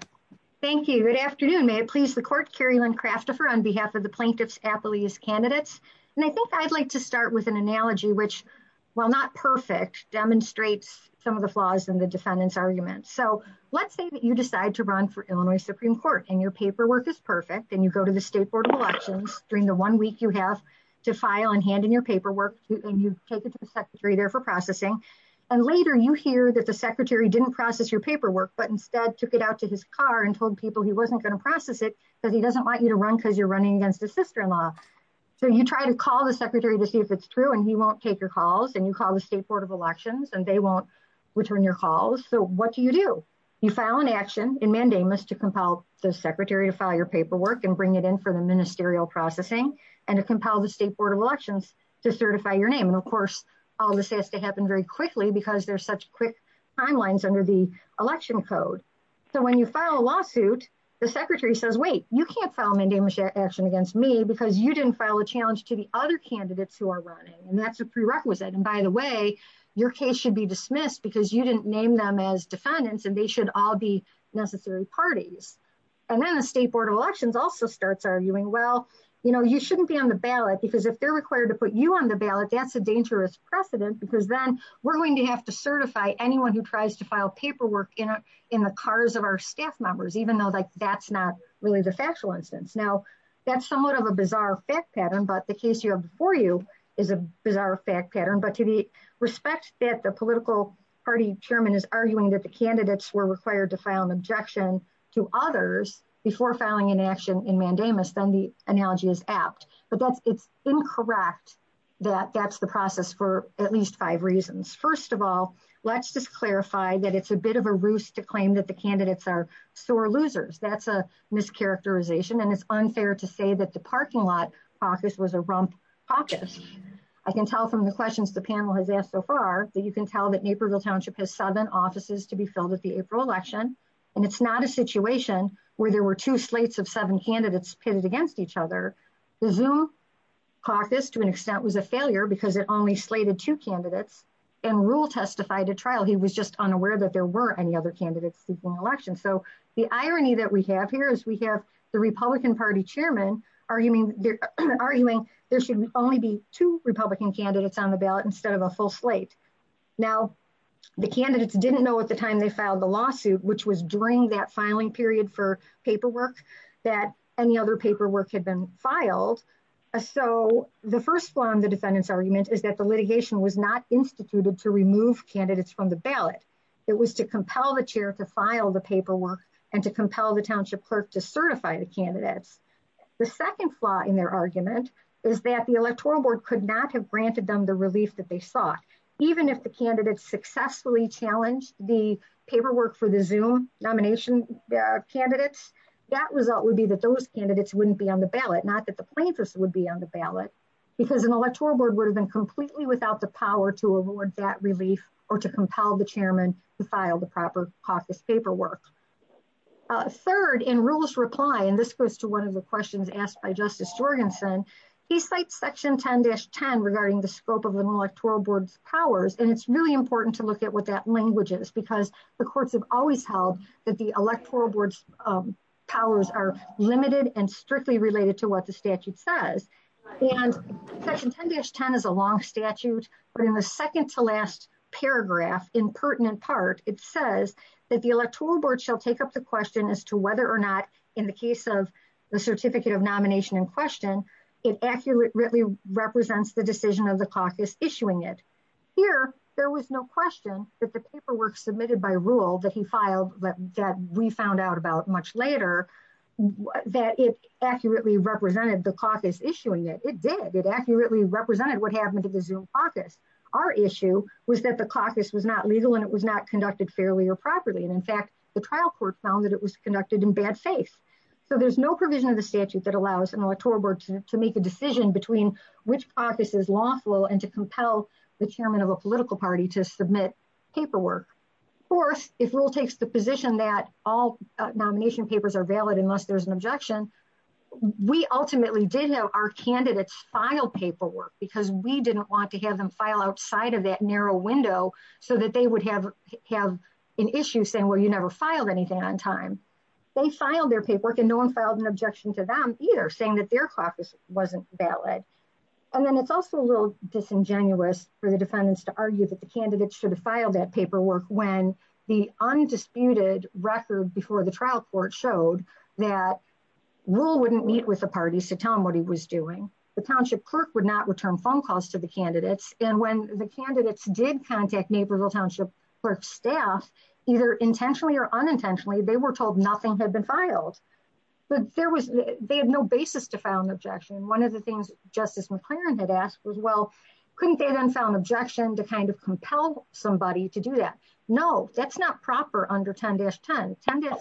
thank you good afternoon may it please the court carry on craft the fur on behalf of the plaintiff's apologies candidates and I think I'd like to start with an analogy which while not perfect demonstrates some of the flaws in the defendant's argument so let's say that you decide to run for illinois supreme court and your paperwork is perfect and you go to the state board of elections during the one week you have to file and hand in your paperwork and you take it to the secretary there for processing and later you hear that the secretary didn't process your paperwork but instead took it out to his car and told people he wasn't going to process it because he doesn't want you to run because you're running against the sister-in-law so you try to call the secretary to see if it's true and he won't take your calls and you call the state board of elections and they won't return your calls so what do you do you file an action in mandamus to compel the secretary to file your paperwork and bring it in for the ministerial processing and to compel the state board of elections to certify your name and of course all this has to happen very quickly because there's such quick timelines under the election code so when you file a lawsuit the secretary says wait you can't file mandamus action against me because you didn't file a challenge to the other candidates who are running and that's a prerequisite and by the way your case should be dismissed because you didn't name them as defendants and they should all be necessary parties and then the state board of elections also starts arguing well you know you shouldn't be on the ballot because if they're required to precedence because then we're going to have to certify anyone who tries to file paperwork in in the cars of our staff members even though like that's not really the factual instance now that's somewhat of a bizarre fact pattern but the case you have before you is a bizarre fact pattern but to the respect that the political party chairman is arguing that the candidates were required to file an objection to others before filing an action in mandamus then the at least five reasons first of all let's just clarify that it's a bit of a ruse to claim that the candidates are sore losers that's a mischaracterization and it's unfair to say that the parking lot caucus was a rump caucus i can tell from the questions the panel has asked so far but you can tell that naperville township has seven offices to be filled at the april election and it's not a situation where there were two slates of seven candidates pitted against each other the zoom caucus to an extent was a failure because it only slated two candidates and rule testified at trial he was just unaware that there were any other candidates in the election so the irony that we have here is we have the republican party chairman arguing they're arguing there should only be two republican candidates on the ballot instead of a full slate now the candidates didn't know at the time they filed the lawsuit which was during that filing period for paperwork that any other paperwork had been filed so the first one the defendant's argument is that the litigation was not instituted to remove candidates from the ballot it was to compel the chair to file the paperwork and to compel the township clerk to certify the candidates the second flaw in their argument is that the electoral board could not have granted them the relief that they sought even if the candidates successfully challenged the paperwork for the nomination candidates that result would be that those candidates wouldn't be on the ballot not that the plaintiffs would be on the ballot because an electoral board would have been completely without the power to award that relief or to compel the chairman to file the proper caucus paperwork third in rules reply and this goes to one of the questions asked by justice jorgensen he cites section 10-10 regarding the scope of an electoral board's powers and it's really important to look at what that language is because the courts have always held that the electoral board's powers are limited and strictly related to what the statute says and section 10-10 is a long statute but in the second to last paragraph in pertinent part it says that the electoral board shall take up the question as to whether or not in the case of the certificate of nomination in question it accurately represents the decision of the caucus issuing it here there was no question that the paperwork submitted by rule that he filed but that we found out about much later that it accurately represented the caucus issuing it it did it accurately represented what happened to the zoom caucus our issue was that the caucus was not legal and it was not conducted fairly or properly and in fact the trial court found that it was conducted in bad faith so there's no provision of the statute that allows an electoral board to make a decision between which caucus is lawful and to compel the chairman of a political party to submit paperwork of course if rule takes the position that all nomination papers are valid unless there's an objection we ultimately did know our candidates filed paperwork because we didn't want to have them file outside of that narrow window so that they would have have an issue saying well you never filed anything on time they filed their paperwork and no one filed an either saying that their caucus wasn't valid and then it's also a little disingenuous for the defendants to argue that the candidates should have filed that paperwork when the undisputed record before the trial court showed that rule wouldn't meet with the parties to tell him what he was doing the township clerk would not return phone calls to the candidates and when the candidates did contact naperville township clerk staff either intentionally or unintentionally they were told nothing had been filed but there was they had no basis to file an objection one of the things justice mclaren had asked was well couldn't they then found objection to kind of compel somebody to do that no that's not proper under 10-10 10-10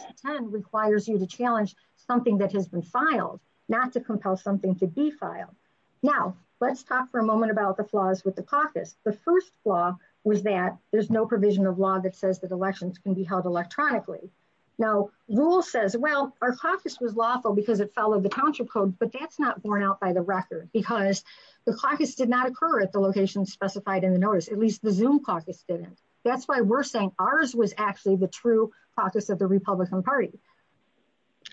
requires you to challenge something that has been filed not to compel something to be filed now let's talk for a moment about the flaws with the caucus the first flaw was that there's no provision of law that says that you can't do that electronically now rule says well our caucus was lawful because it followed the township code but that's not borne out by the record because the caucus did not occur at the location specified in the notice at least the zoom caucus didn't that's why we're saying ours was actually the true caucus of the republican party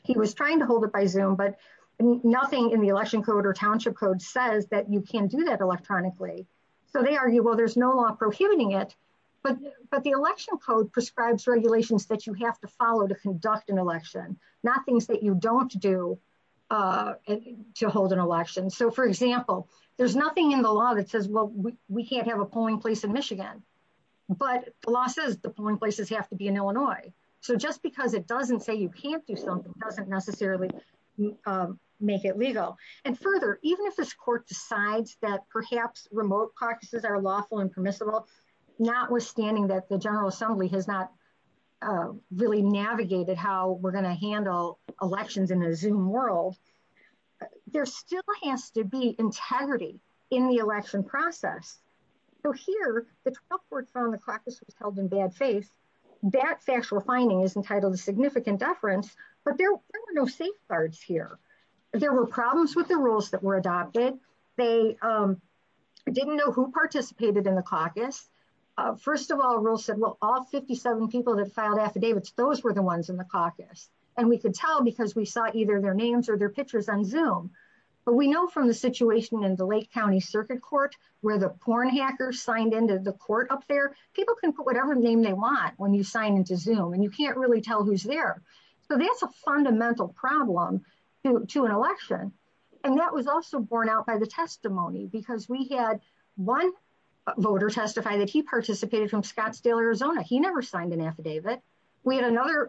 he was trying to hold it by zoom but nothing in the election code or township code says that you can't do that electronically so they argue well there's no law prohibiting it but but the election code prescribes regulations that you have to follow to conduct an election not things that you don't do uh to hold an election so for example there's nothing in the law that says well we can't have a polling place in michigan but the law says the polling places have to be in illinois so just because it doesn't say you can't do something doesn't necessarily make it legal and further even if this court decides that perhaps remote practices are lawful and permissible notwithstanding that the general assembly has not really navigated how we're going to handle elections in the zoom world there still has to be integrity in the election process so here the 12th court found the practice was held in bad faith that factual finding is entitled a significant deference but there were safeguards here there were problems with the rules that were adopted they didn't know who participated in the caucus first of all rule said well all 57 people that filed affidavits those were the ones in the caucus and we could tell because we saw either their names or their pictures on zoom but we know from the situation in the lake county circuit court where the porn hackers signed into the court up there people can put whatever name they want when you sign into so that's a fundamental problem to an election and that was also borne out by the testimony because we had one voter testified that he participated from scottsdale arizona he never signed an affidavit we had another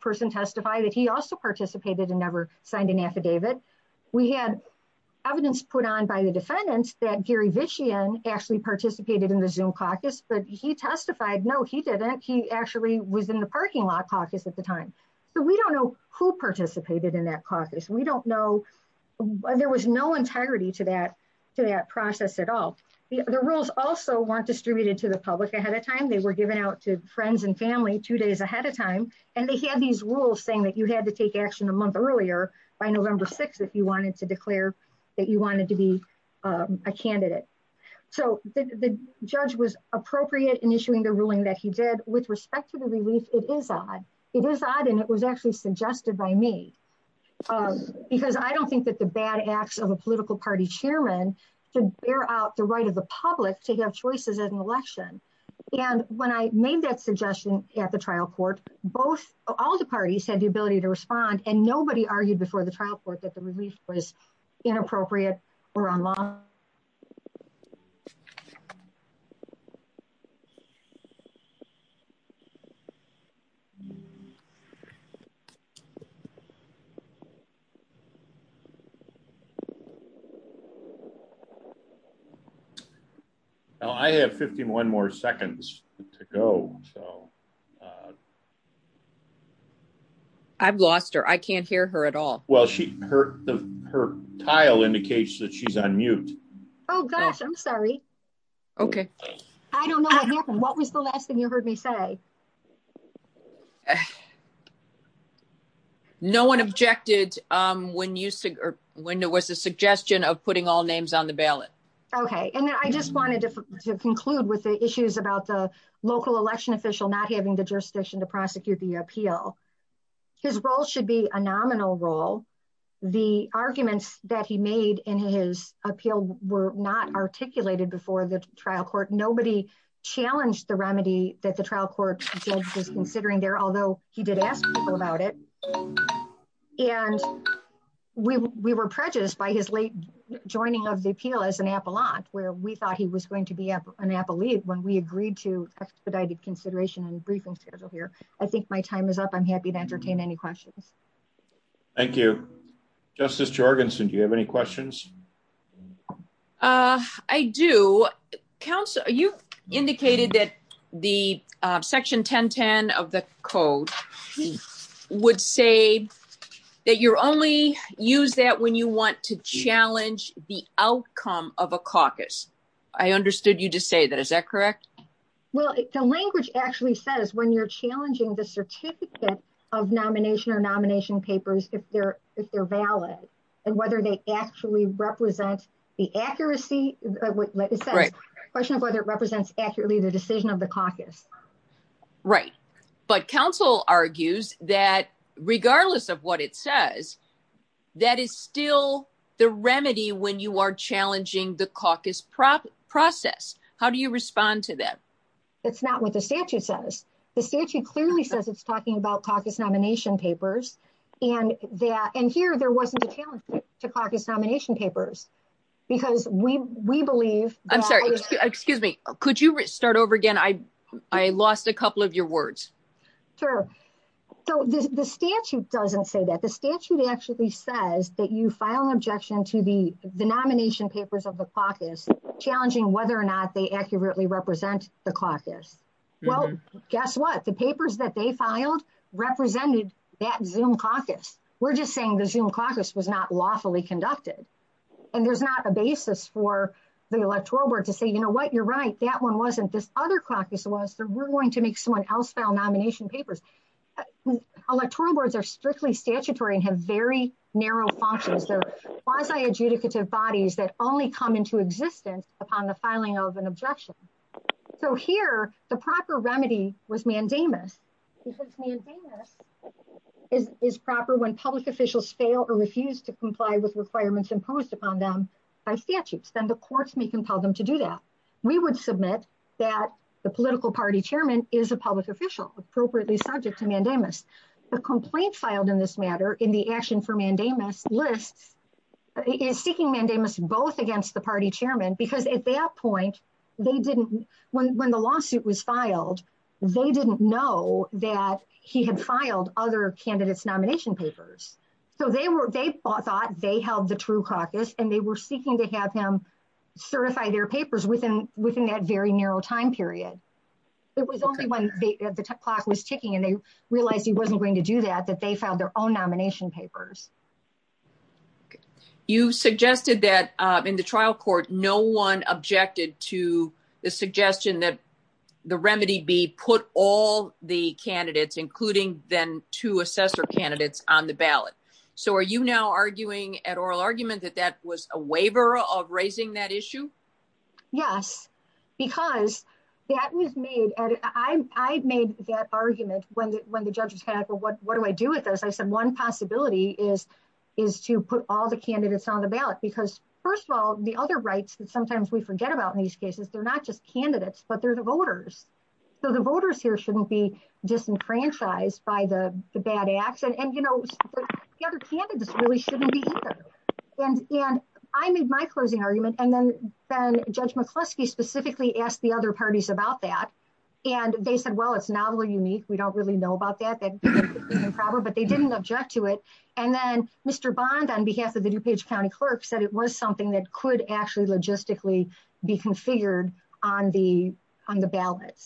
person testify that he also participated and never signed an affidavit we had evidence put on by the defendants that gary vichian actually participated in the zoom caucus but he testified no he didn't he actually was in the parking lot caucus at the time so we don't know who participated in that caucus we don't know there was no integrity to that to that process at all the rules also weren't distributed to the public ahead of time they were given out to friends and family two days ahead of time and they had these rules saying that you had to take action a month earlier by november 6th if you wanted to declare that you wanted to be a candidate so the judge was appropriate in issuing the ruling that he did with respect to the release it is odd it is odd and it was actually suggested by me because i don't think that the bad action of a political party chairman should bear out the right of the public to have choices at an election and when i made that suggestion at the trial court both all the parties had the ability to respond and nobody argued before the trial court that the release was inappropriate or unlawful now i have 51 more seconds to go so uh i've lost her i can't hear her at all well she her the her tile indicates that she's on mute oh gosh i'm sorry okay i don't know what happened what was the last thing you heard me say no one objected um when you said or when there was a suggestion of putting all names on the ballot okay and i just wanted to conclude with the issues about the local election official not having the jurisdiction to prosecute the appeal his role should be a nominal role the arguments that he made in his appeal were not articulated before the trial court nobody challenged the remedy that the trial court was considering there although he did ask about it and we we were prejudiced by his late joining of the appeal as an apollon where we thought he was going to be an appellee when we agreed to expedited consideration on the briefing schedule here i think my time is up i'm happy to entertain any questions thank you justice jorgensen do you have any questions uh i do council you indicated that the uh section 1010 of the code would say that you only use that when you want to challenge the outcome of a caucus i understood you to say that is that correct well the language actually says when you're challenging the certificate of nomination or nomination papers if they're if they're valid and whether they actually represent the accuracy like a question of whether it represents accurately the decision of the of what it says that is still the remedy when you are challenging the caucus process how do you respond to that it's not what the statute says the statute clearly says it's talking about caucus nomination papers and that and here there wasn't a chance to caucus nomination papers because we we believe i'm sorry excuse me could you start over again i i lost a couple of your words sir so the statute doesn't say that the statute actually says that you file an objection to the the nomination papers of the caucus challenging whether or not they accurately represent the caucus well guess what the papers that they filed represented that zoom caucus we're just saying the zoom caucus was not lawfully conducted and there's not a basis for the electoral board to say you know what you're right that one wasn't this other caucus was but we're going to make someone else file nomination papers electoral boards are strictly statutory and have very narrow functions or quasi-adjudicative bodies that only come into existence upon the filing of an objection so here the proper remedy was mandamus is proper when public officials fail or refuse to comply with requirements imposed upon them by statutes then the courts may compel them to do that we would submit that the political party chairman is a public official appropriately subject to mandamus the complaint filed in this matter in the action for mandamus list is seeking mandamus both against the party chairman because at that point they didn't when when the lawsuit was filed they didn't know that he had filed other candidates nomination papers so they were they thought they held the true caucus and they were was only when the clock was ticking and they realized he wasn't going to do that that they found their own nomination papers you suggested that in the trial court no one objected to the suggestion that the remedy be put all the candidates including then two assessor candidates on the ballot so are you now arguing at oral argument that that was a waiver of raising that yes because that was made and i i've made that argument when when the judge said well what what do i do with this i said one possibility is is to put all the candidates on the ballot because first of all the other rights that sometimes we forget about in these cases they're not just candidates but they're the voters so the voters here shouldn't be disenfranchised by the the bad and you know the other candidates really shouldn't be here and and i made my closing argument and then then judge mccluskey specifically asked the other parties about that and they said well it's not really unique we don't really know about that but but they didn't object to it and then mr bond on behalf of the new page county clerk said it was something that could actually logistically be configured on the on the ballot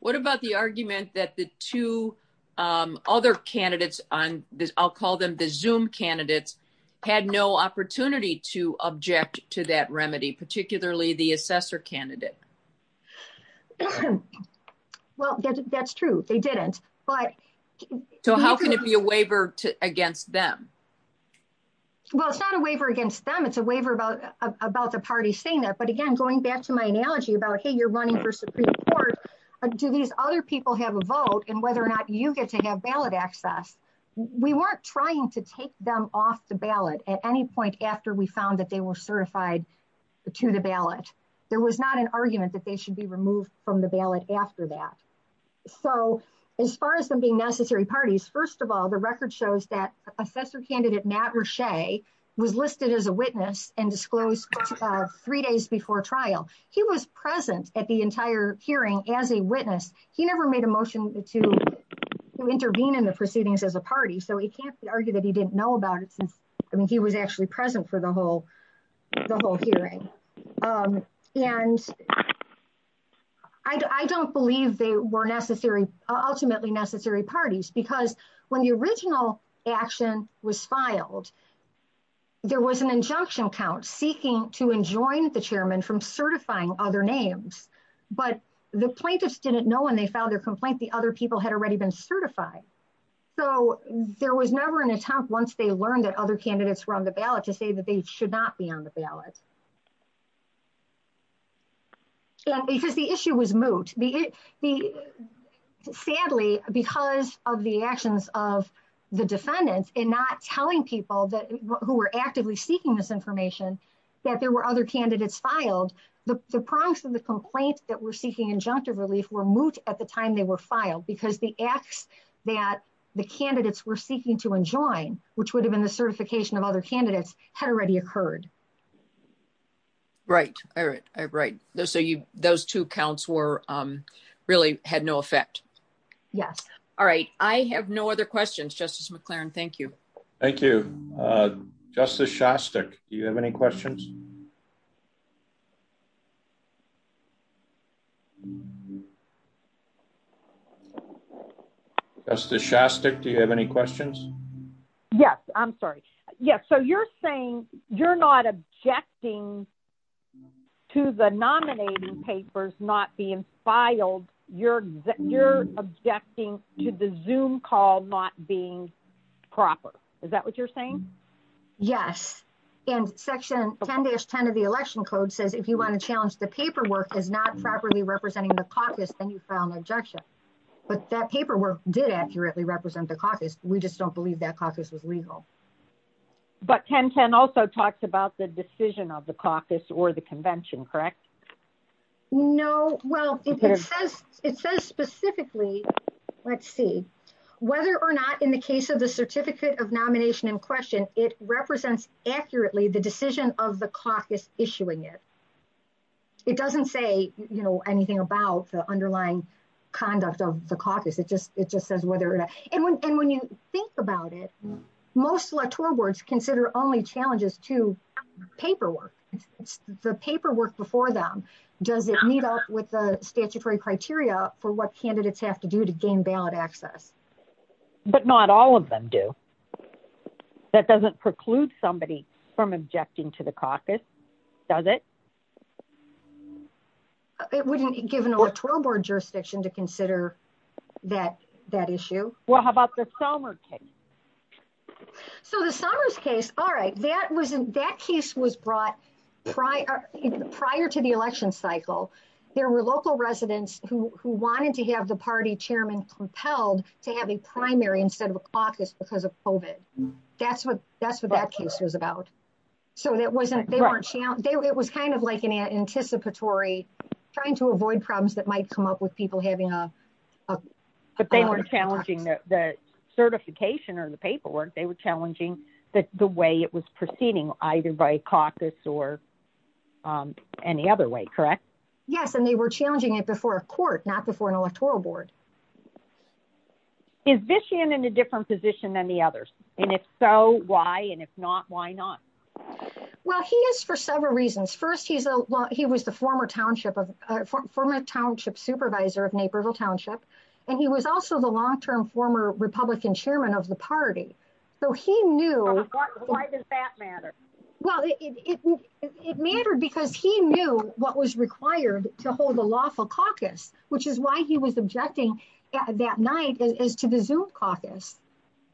what about the argument that the two um other candidates on this i'll call them the zoom candidates had no opportunity to object to that remedy particularly the assessor candidate well that's true they didn't but so how can it be a waiver to against them well it's not a waiver against them it's a waiver about about the party saying that but again going back to my analogy about hey you're running for supreme court but do these other people have a vote and whether or not you get to have ballot access we weren't trying to take them off the ballot at any point after we found that they were certified to the ballot there was not an argument that they should be removed from the ballot after that so as far as the necessary parties first of all the record shows that assessor candidate matt rache was listed as a witness and disclosed three days before trial he was present at the entire hearing as a witness he never made a motion to intervene in the proceedings of the party so it can't be argued that he didn't know about it i mean he was actually present for the whole the whole hearing um and i don't believe they were necessary ultimately necessary parties because when the original action was filed there was an injunction count seeking to enjoin the chairman from certifying other names but the plaintiffs didn't know when they filed their complaint the other people had already been certified so there was never an attempt once they learned that other candidates were on the ballot to say that they should not be on the ballot so because the issue was moot the the sadly because of the actions of the defendants and telling people that who were actively seeking this information that there were other candidates filed the prompts of the complaints that were seeking injunctive relief were moot at the time they were filed because the acts that the candidates were seeking to enjoin which would have been the certification of other candidates had already occurred right all right all right so you those two counts were um really had no effect yes all right i have no other questions justice mclaren thank you thank you uh justice shastik do you have any questions justice shastik do you have any questions yes i'm sorry yes so you're saying you're not objecting to the nominating papers not being filed you're you're objecting to the zoom call not being proper is that what you're saying yes and section 10-10 of the election code says if you want to challenge the paperwork is not properly representing the caucus and you file an objection but that paperwork did accurately represent the caucus we just don't believe that was legal but 10-10 also talks about the decision of the caucus or the convention correct no well it says it says specifically let's see whether or not in the case of the certificate of nomination in question it represents accurately the decision of the caucus issuing it it doesn't say you know anything about the underlying conduct of the caucus it just it think about it most electoral boards consider only challenges to paperwork the paperwork before them does it meet up with the statutory criteria for what candidates have to do to gain ballot access but not all of them do that doesn't preclude somebody from objecting to the caucus does it it wouldn't give an electoral board jurisdiction to consider that that issue well how about the summer case so the summer's case all right that was that case was brought prior prior to the election cycle there were local residents who who wanted to have the party chairman compelled to have a primary instead of a caucus because of covid that's what that's what that case is about so that wasn't they weren't it was kind of like an anticipatory trying to avoid problems that might come up with people having a but they weren't challenging the certification or the paperwork they were challenging that the way it was proceeding either by caucus or any other way correct yes and they were challenging it before a court not before an electoral board is this in a different position than the others and if so why and if not why not well he is for several reasons first he's a well he was the former township of former township supervisor of naperville township and he was also the long-term former republican chairman of the party so he knew why does that matter well it mattered because he knew what was required to hold a lawful caucus which is why he was objecting at that night is to the zoom caucus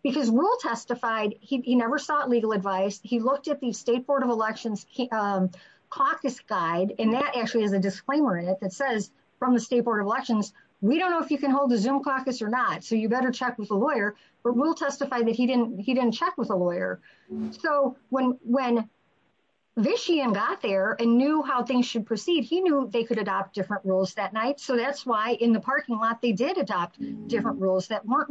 because will testified he never sought legal advice he looked at the state board of elections caucus guide and that actually has a disclaimer in it that says from the state board of elections we don't know if you can hold the zoom caucus or not so you better check with a lawyer but will testify that he didn't he didn't check with a lawyer so when when vician got there and knew how things should proceed he knew they could adopt different rules that night so that's why in the parking lot they did adopt different rules that weren't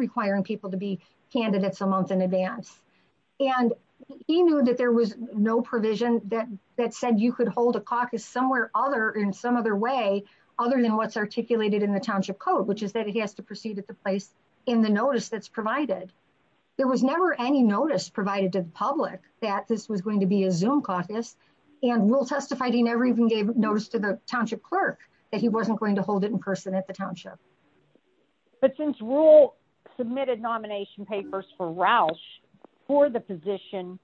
that there was no provision that that said you could hold a caucus somewhere other in some other way other than what's articulated in the township code which is that he has to proceed at the place in the notice that's provided there was never any notice provided to the public that this was going to be a zoom caucus and will testify he never even gave notice to the township clerk that he wasn't going to hold it in person at the township but since rule submitted nomination papers for the position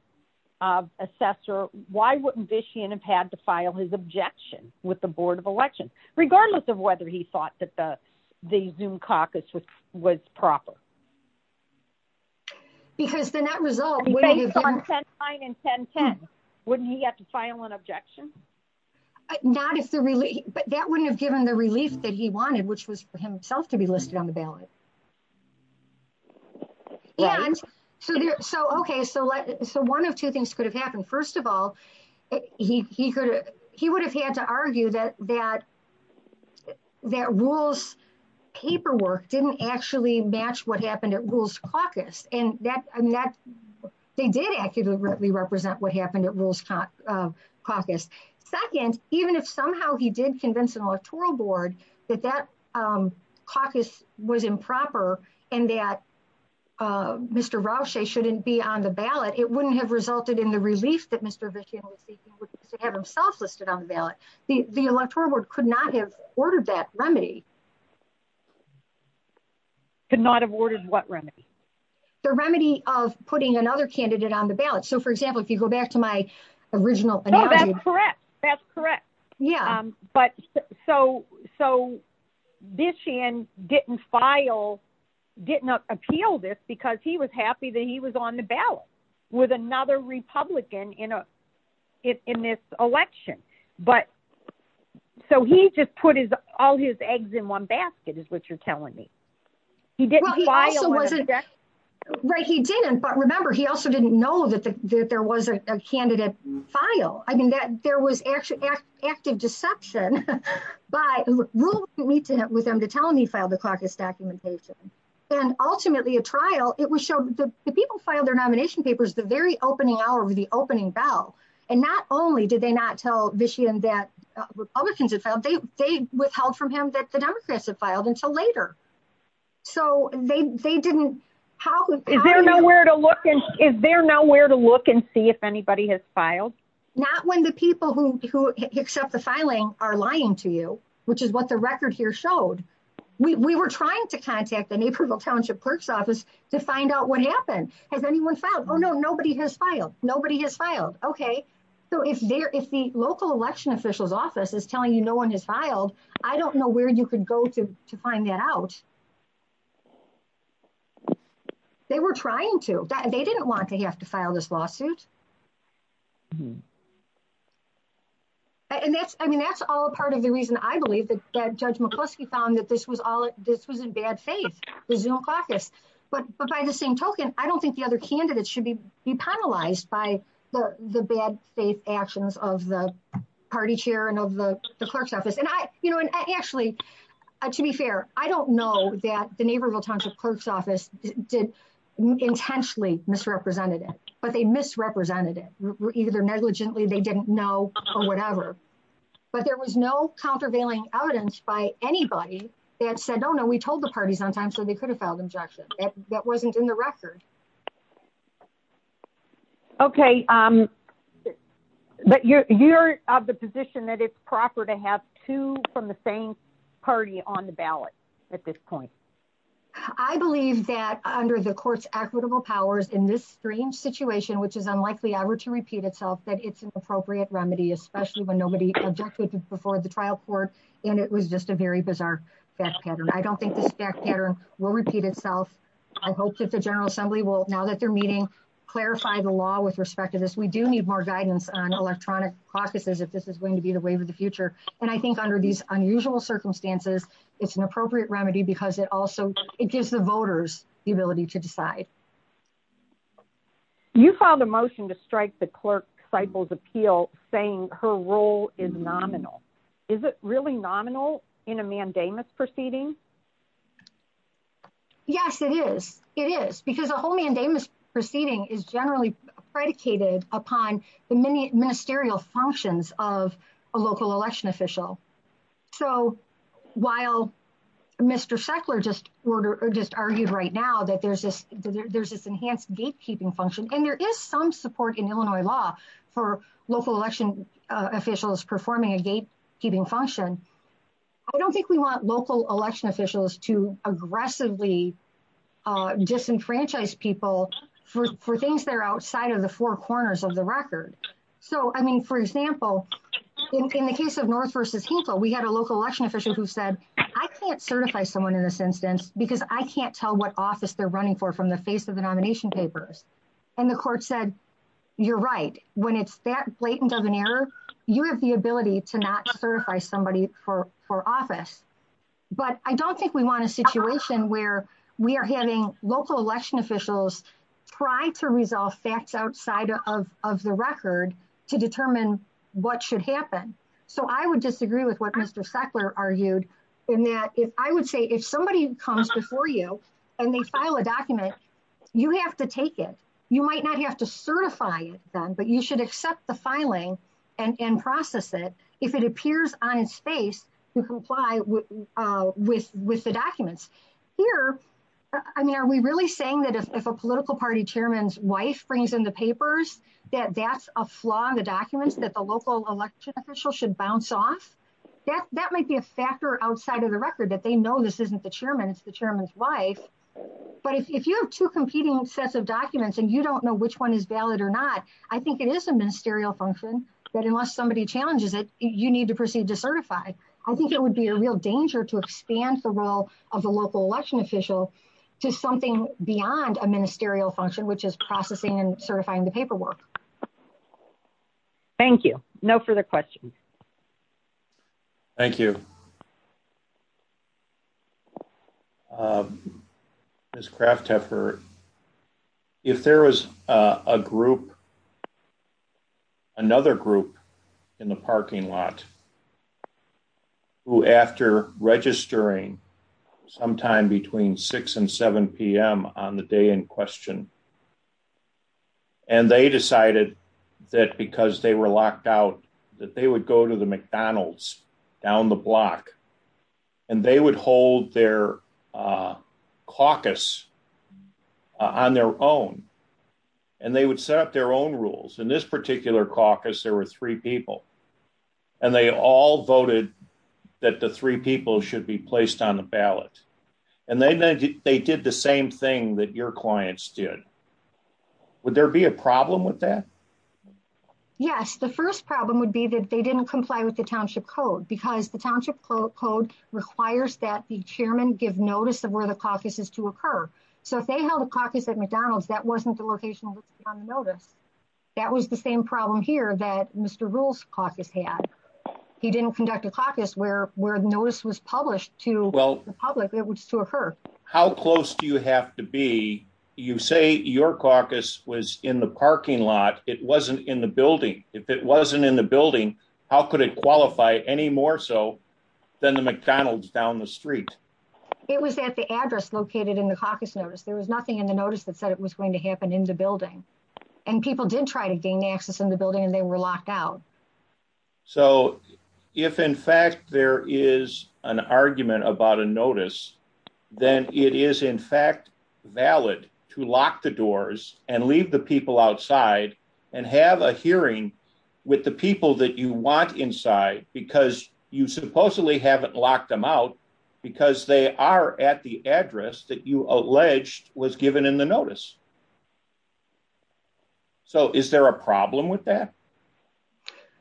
of assessor why wouldn't vician have had to file his objection with the board of elections regardless of whether he thought that the the zoom caucus was was proper because then that result would have been 10 9 and 10 10 wouldn't he have to file an objection not if the relief but that wouldn't have given the relief that he wanted which was for himself to be listed on the ballot yeah so there's so okay so let's so one of two things could have happened first of all he he could he would have had to argue that that that rules paperwork didn't actually match what happened at rules caucus and that i mean that they did accurately represent what happened at rules caucus second even if somehow he did convince electoral board that that um caucus was improper and that uh mr roush they shouldn't be on the ballot it wouldn't have resulted in the relief that mr vician would have himself listed on the ballot the the electoral board could not have ordered that remedy could not have ordered what remedy the remedy of putting another candidate on the ballot so for example if you go back to my original that's correct that's correct yeah um but so so vician didn't file didn't appeal this because he was happy that he was on the ballot with another republican in a in this election but so he just put his all his eggs in one basket is what you're telling me he didn't he also wasn't that right he didn't but remember he also didn't know that there was a file i mean that there was actually active deception by rules to meet with them to tell him he filed the caucus documentation then ultimately a trial it was shown the people filed their nomination papers the very opening hour with the opening bell and not only did they not tell vician that republicans just found they they withheld from him that the democrats have filed until later so they they didn't how is there nowhere to look and is there nowhere to look and see if anybody has filed not when the people who accept the filing are lying to you which is what the record here showed we were trying to contact the neighborhood township clerk's office to find out what happened has anyone filed oh no nobody has filed nobody has filed okay so if there is the local election officials office is telling you no one has filed i don't know where you could go to to find that out they were trying to they didn't want to have to file this lawsuit hmm and that's i mean that's all part of the reason i believe that judge mccluskey found that this was all this was in bad faith there's no caucus but but by the same token i don't think the other candidates should be be penalized by the the bad faith actions of the party chair and of the clerk's office and i you know and actually to be fair i don't know that the neighborhood clerk's office did intentionally misrepresented it but they misrepresented it either negligently they didn't know or whatever but there was no countervailing evidence by anybody that said oh no we told the party sometimes so they could have filed injection that wasn't in the record okay um but you're you're of the position that it's proper to have two from the party on the ballot at this point i believe that under the court's equitable powers in this strange situation which is unlikely ever to repeat itself that it's an appropriate remedy especially when nobody objected before the trial court and it was just a very bizarre fact pattern i don't think the stack pattern will repeat itself i hope that the general assembly will now that they're meeting clarify the law with respect to this we do need more guidance on electronic processes if this is going to be the wave of the future and i think under these unusual circumstances it's an appropriate remedy because it also it gives the voters the ability to decide you file the motion to strike the clerk cycle's appeal saying her role is nominal is it really nominal in a mandamus proceeding yes it is it is because a whole mandamus proceeding is generally predicated upon the many ministerial functions of a local election official so while mr sheckler just order or just argued right now that there's this there's this enhanced gatekeeping function and there is some support in illinois law for local election officials performing a gate keeping function i don't think we want local election officials to aggressively uh disenfranchise people for things they're outside of the four corners of the record so i mean for example in the case of north versus hinkle we had a local election official who said i can't certify someone in this instance because i can't tell what office they're running for from the face of the nomination papers and the court said you're right when it's that blatant of an error you have the ability to not certify somebody for for office but i don't think we want a situation where we are having local election officials try to resolve facts outside of of the record to determine what should happen so i would disagree with what mr sheckler argued in that if i would say if somebody comes before you and they file a document you have to take it you might not have to certify them but you should accept the filing and and process it if it appears on its face to comply with uh with with the documents here i mean are we really saying that if a political party chairman's wife brings in the papers that that's a flaw in the documents that the local election official should bounce off that that might be a factor outside of the record that they know this isn't the chairman's the chairman's wife but if you have two competing sets of documents and you don't know which one is valid or not i think it is a ministerial function that unless somebody challenges it you need to proceed to certify i think it would be a real danger to expand the role of the local election official to something beyond a ministerial function which is processing and certifying the paperwork thank you no further questions thank you um this craft effort if there was a group another group in the parking lot who after registering sometime between 6 and 7 p.m on the day in question and they decided that because they were locked out that they would go to the mcdonald's down the block and they would hold their uh caucus on their own and they would set up their own rules in this particular caucus there were three people and they all voted that the three people should be placed on the ballot and they they did the same thing that your clients did would there be a problem with that yes the first problem would be that they didn't comply with the township code because the township code requires that the chairman give notice of where the caucus is to occur so if they held a caucus at mcdonald's that wasn't the location on the notice that was the same problem here that mr rule's caucus had he didn't conduct a caucus where where the notice was published to well the public it was to occur how close do you have to be you say your caucus was in the parking lot it wasn't in the building if it wasn't in the building how could it qualify any more so than the mcdonald's down the street it was at the address located in the caucus notice there was nothing in the notice that said it was going to happen in the building and people did try to gain access in the building and they were locked out so if in fact there is an argument about a notice then it is in fact valid to lock the doors and leave the people outside and have a hearing with the people that you want inside because you supposedly haven't locked them out because they are at the address that you alleged was given in the notice so is there a problem with that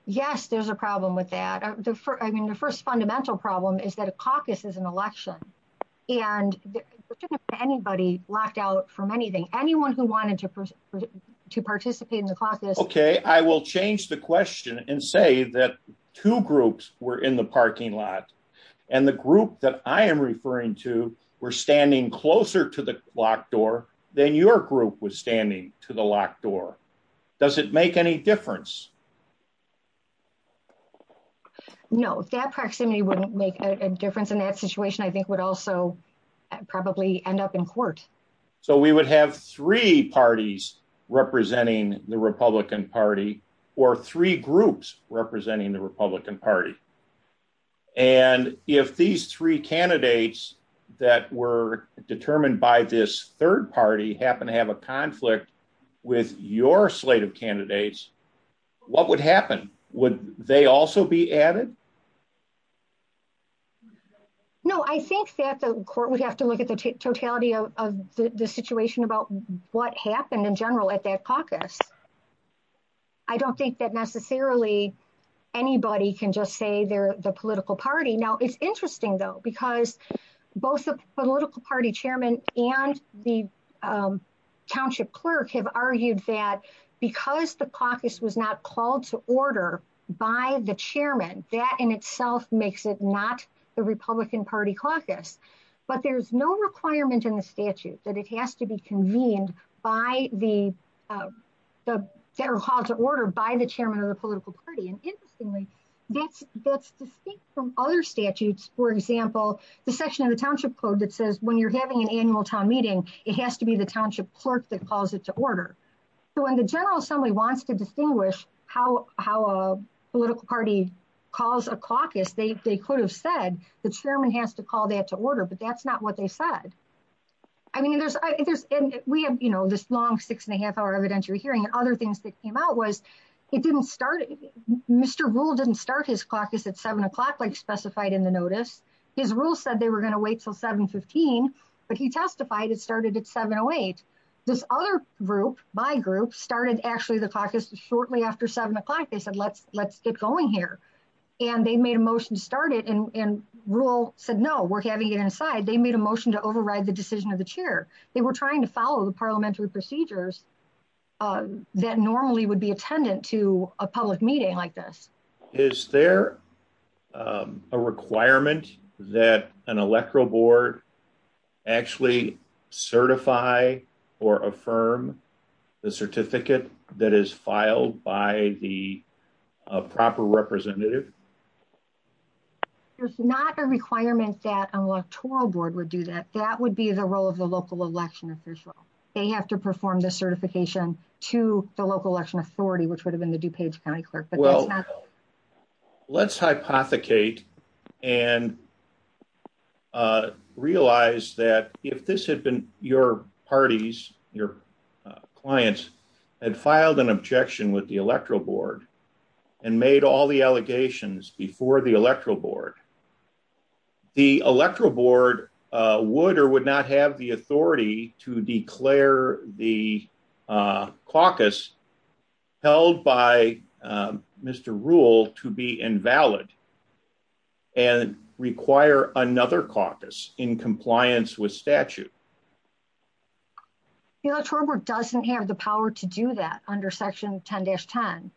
yes there's a problem with that i mean the first fundamental problem is that a caucus is an election and anybody locked out from anything anyone who i will change the question and say that two groups were in the parking lot and the group that i am referring to were standing closer to the locked door than your group was standing to the locked door does it make any difference no that proximity wouldn't make a difference in that situation i think would also probably end up in court so we would have three parties representing the republican party or three groups representing the republican party and if these three candidates that were determined by this third party happen to have a conflict with your slate of candidates what would happen would they also be added no i think that the court would have to look at the totality of the situation about what happened in general at that caucus i don't think that necessarily anybody can just say they're the political party now it's interesting though because both the political party chairman and the township clerk have argued that because the caucus was not called to order by the chairman that in itself makes it not the republican party caucus but there's no requirement in the statute that it has to be convened by the uh the federal cause of order by the chairman of the political party and interestingly that's that's distinct from other statutes for example the section of the township code that says when you're having an annual town meeting it has to be the township clerk that calls it to order so when the general assembly wants to distinguish how how a political party calls a caucus they could have said the chairman has to call that to order but that's not what they said i mean there's and we have you know this long six and a half hour evidentiary hearing other things that came out was it didn't start mr rule didn't start his caucus at seven o'clock like specified in the notice his rule said they were going to wait till 7 15 but he testified it started at 708 this other group my group started actually the caucus shortly after seven o'clock they said let's let's get going here and they made a motion to start it and and rule said no we're having it inside they made a motion to override the decision of the chair they were trying to follow the parliamentary procedures uh that normally would be attendant to a public meeting like this is there a requirement that an electoral board actually certify or affirm the certificate that is filed by the proper representative there's not a requirement that an electoral board would do that that would be the role of the local election official they have to perform the certification to the local election authority which would have been the dupage county clerk well let's hypothecate and uh realize that if this had been your parties your clients had filed an objection with the electoral board and made all the allegations before the electoral board the electoral board would or would not have the authority to declare the caucus held by mr rule to be invalid and require another caucus in compliance with statute the electoral board doesn't have the power to do that under section 10-10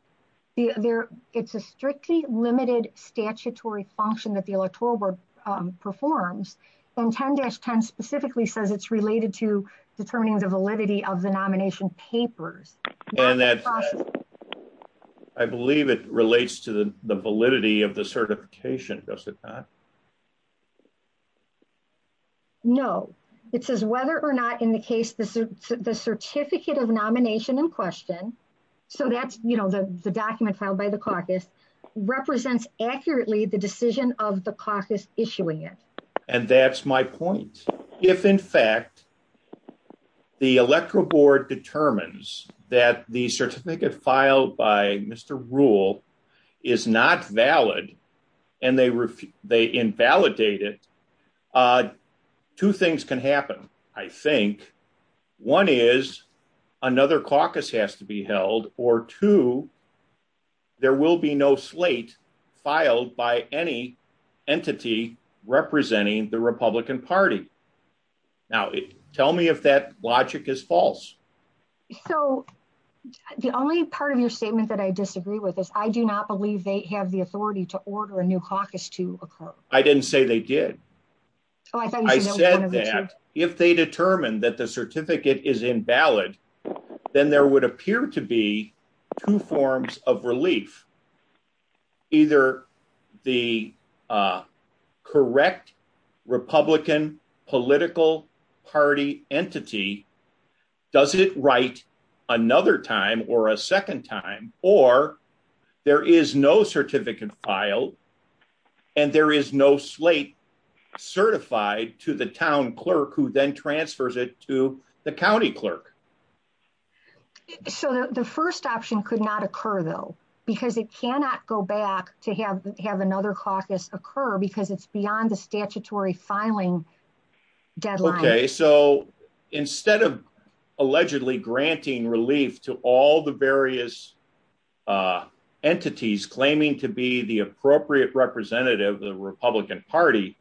there it's a strictly limited statutory function that the electoral board performs and 10-10 specifically says it's related to determining the validity of the nomination papers I believe it relates to the validity of the certification does it not no it says whether or not in the case the certificate of nomination in question so that's you know the document filed by the caucus represents accurately the decision of the that the certificate filed by mr rule is not valid and they they invalidate it uh two things can happen I think one is another caucus has to be held or two there will be no slate filed by any entity representing the republican party now tell me if that logic is false so the only part of your statement that I disagree with is I do not believe they have the authority to order a new caucus to occur I didn't say they did I said that if they determine that the certificate is invalid then there would appear to be two forms of relief either the uh correct republican political party entity does it write another time or a second time or there is no certificate filed and there is no slate certified to the town clerk who then transfers it to the county clerk so the first option could not occur though because it cannot go back to have have another caucus occur because it's beyond the statutory filing deadline okay so instead of allegedly granting relief to all the various uh entities claiming to be the appropriate representative of the republican party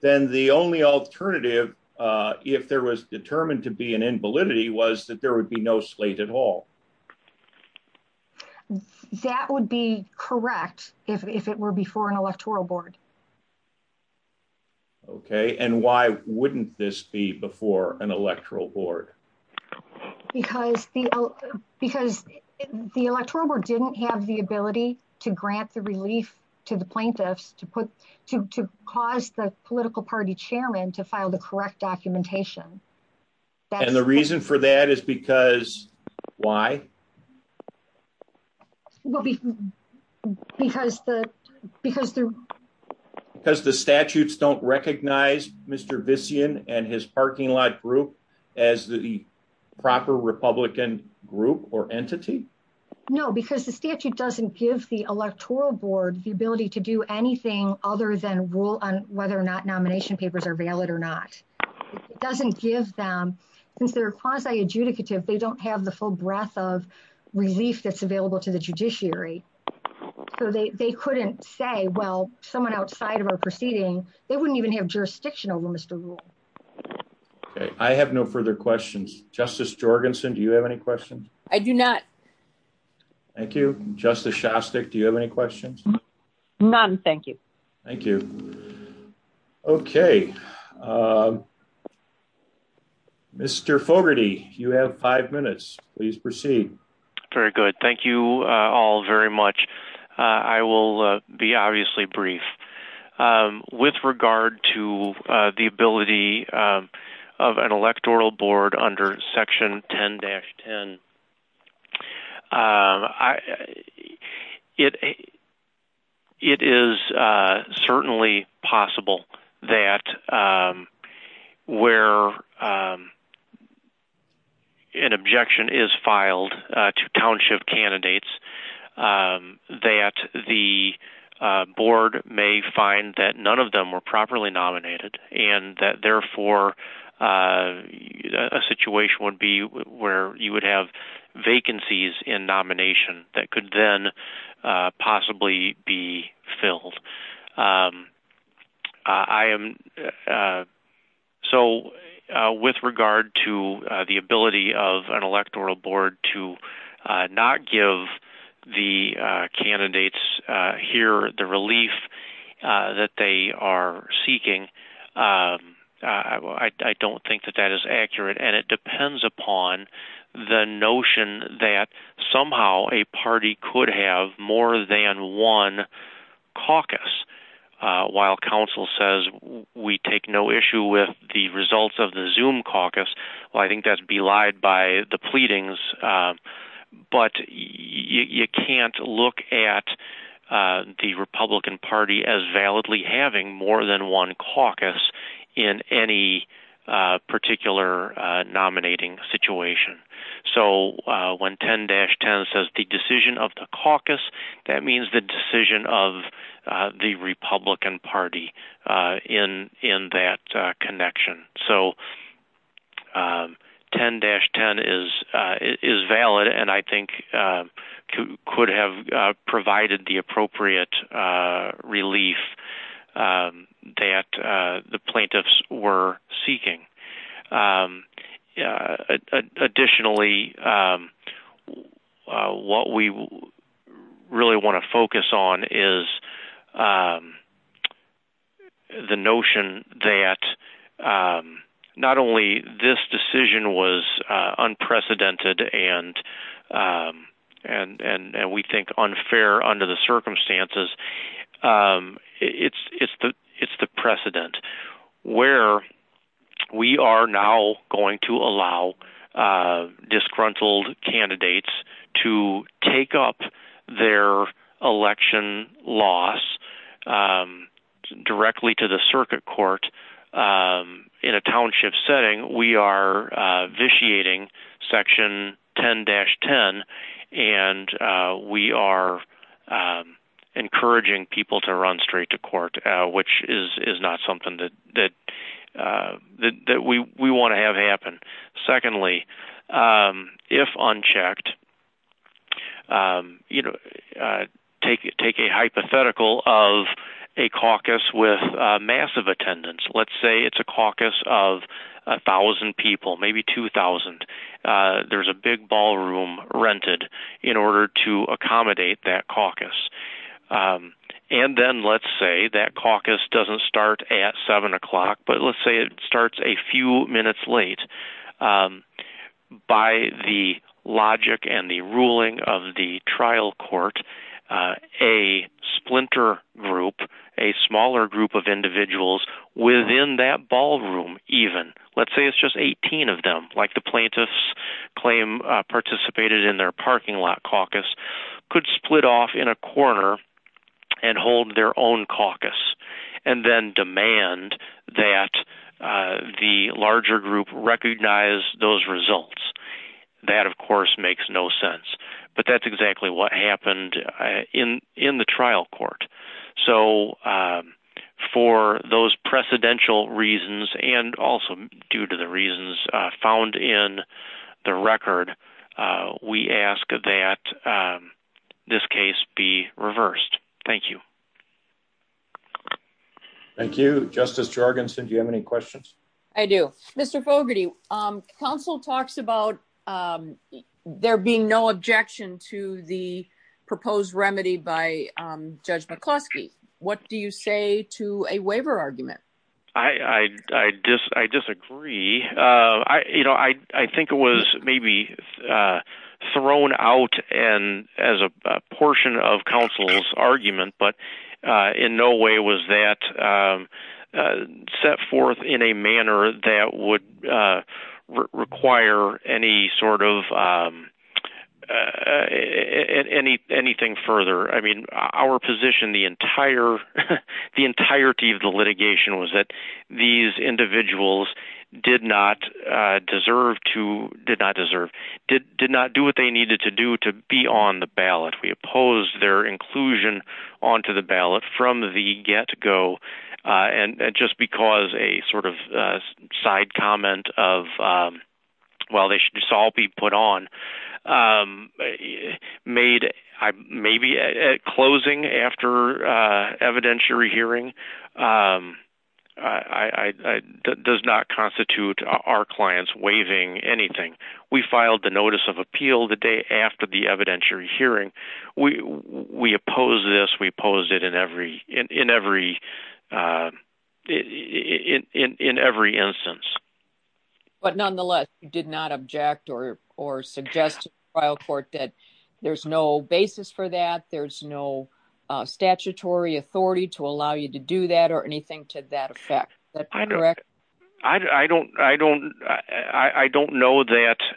then the only alternative uh if there was determined to be an invalidity was that there would be no slate at all that would be correct if it were before an electoral board okay and why wouldn't this be before an electoral board because because the electoral board didn't have the ability to grant the relief to the plaintiffs to put to cause the political party chairman to file the correct documentation and the reason for that is because why well because the because because the statutes don't recognize mr vision and his parking lot group as the proper republican group or entity no because the statute doesn't give the electoral board the ability to do anything other than rule on whether or not nomination papers are valid or not it doesn't give them since they're quasi-adjudicative they don't have the full breadth of relief that's available to the judiciary so they they couldn't say well someone outside of our proceeding they wouldn't even have jurisdictional limits to rule okay i have no further questions justice jorgenson do you have any questions i do not thank you justice shostak do you have any questions none thank you thank you okay mr fogarty you have five minutes please proceed very good thank you uh all very much uh i will be obviously brief um with regard to the ability of an electoral board under section 10-10 i it it is uh certainly possible that um where an objection is filed to township candidates that the board may find that none of them were where you would have vacancies in nomination that could then possibly be filled i am so with regard to the ability of an electoral board to not give the candidates here the relief that they are seeking i don't think that that is accurate and it depends upon the notion that somehow a party could have more than one caucus while council says we take no issue with the results of the zoom caucus well i think that's belied by the pleadings uh but you can't look at uh the republican party as validly having more than one caucus in any uh particular uh nominating situation so when 10-10 says the decision of the caucus that means the decision of the republican party uh in in that connection so um 10-10 is uh is valid and i think uh could have provided the appropriate uh relief that uh the plaintiffs were seeking um yeah additionally um what we really want to focus on is um the notion that um not only this decision was uh unprecedented and um and and and we think unfair under the circumstances um it's it's the it's the precedent where we are now going to allow uh disgruntled candidates to take up their election loss um directly to the circuit court in a township setting we are uh vitiating section 10-10 and uh we are um encouraging people to run secondly um if unchecked um you know uh take take a hypothetical of a caucus with a massive attendance let's say it's a caucus of a thousand people maybe two thousand uh there's a big ballroom rented in order to accommodate that caucus um and then let's say that caucus doesn't start at seven o'clock but let's say it starts a few minutes late um by the logic and the ruling of the trial court uh a splinter group a smaller group of individuals within that ballroom even let's say it's just 18 of them like the plaintiffs claim participated in their parking lot caucus could split off in a corner and hold their own caucus and then demand that uh the larger group recognize those results that of course makes no sense but that's exactly what happened in in the trial court so uh for those precedential reasons and also due to the reasons found in the record uh we ask that this case be reversed thank you thank you justice jargonson do you have any questions i do mr fogarty um council talks about um there being no objection to the proposed remedy by um judge mccloskey what do you say to a waiver argument i i i just i disagree uh i you know i i think it was maybe uh thrown out and as a portion of council's argument but uh in no way was that uh set forth in a manner that would uh require any sort of um uh any anything further i mean our position the entire the entirety of the litigation was that these individuals did not uh deserve to did not deserve did did not do what they needed to do to be on the ballot we opposed their inclusion onto the ballot from the get-go uh and just because a sort of uh side comment of um well they should just all be put on um made i maybe at closing after uh evidentiary hearing um i i does not constitute our clients waiving anything we filed the notice of appeal the day after the evidentiary hearing we we oppose this we oppose it in every in every uh in every instance but nonetheless you did not object or or suggest to the trial court that there's no basis for that there's no uh statutory authority to allow you to do that or anything to that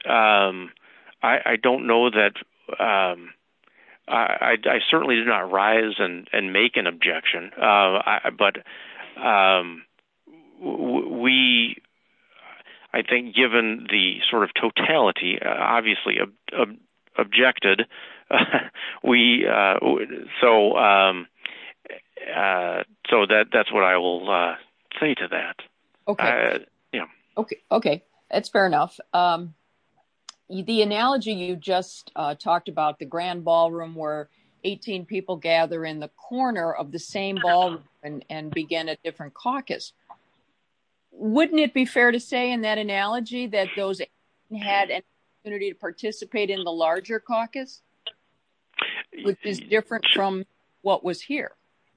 um i i certainly did not rise and and make an objection uh but um we i think given the sort of totality obviously objected we uh so um uh so that that's what i will uh say to that okay yeah okay okay that's fair enough um the analogy you just uh talked about the grand ballroom where 18 people gather in the corner of the same ball and and begin a different caucus wouldn't it be fair to say in that analogy that those had an opportunity to participate in the larger caucus which is different from what was here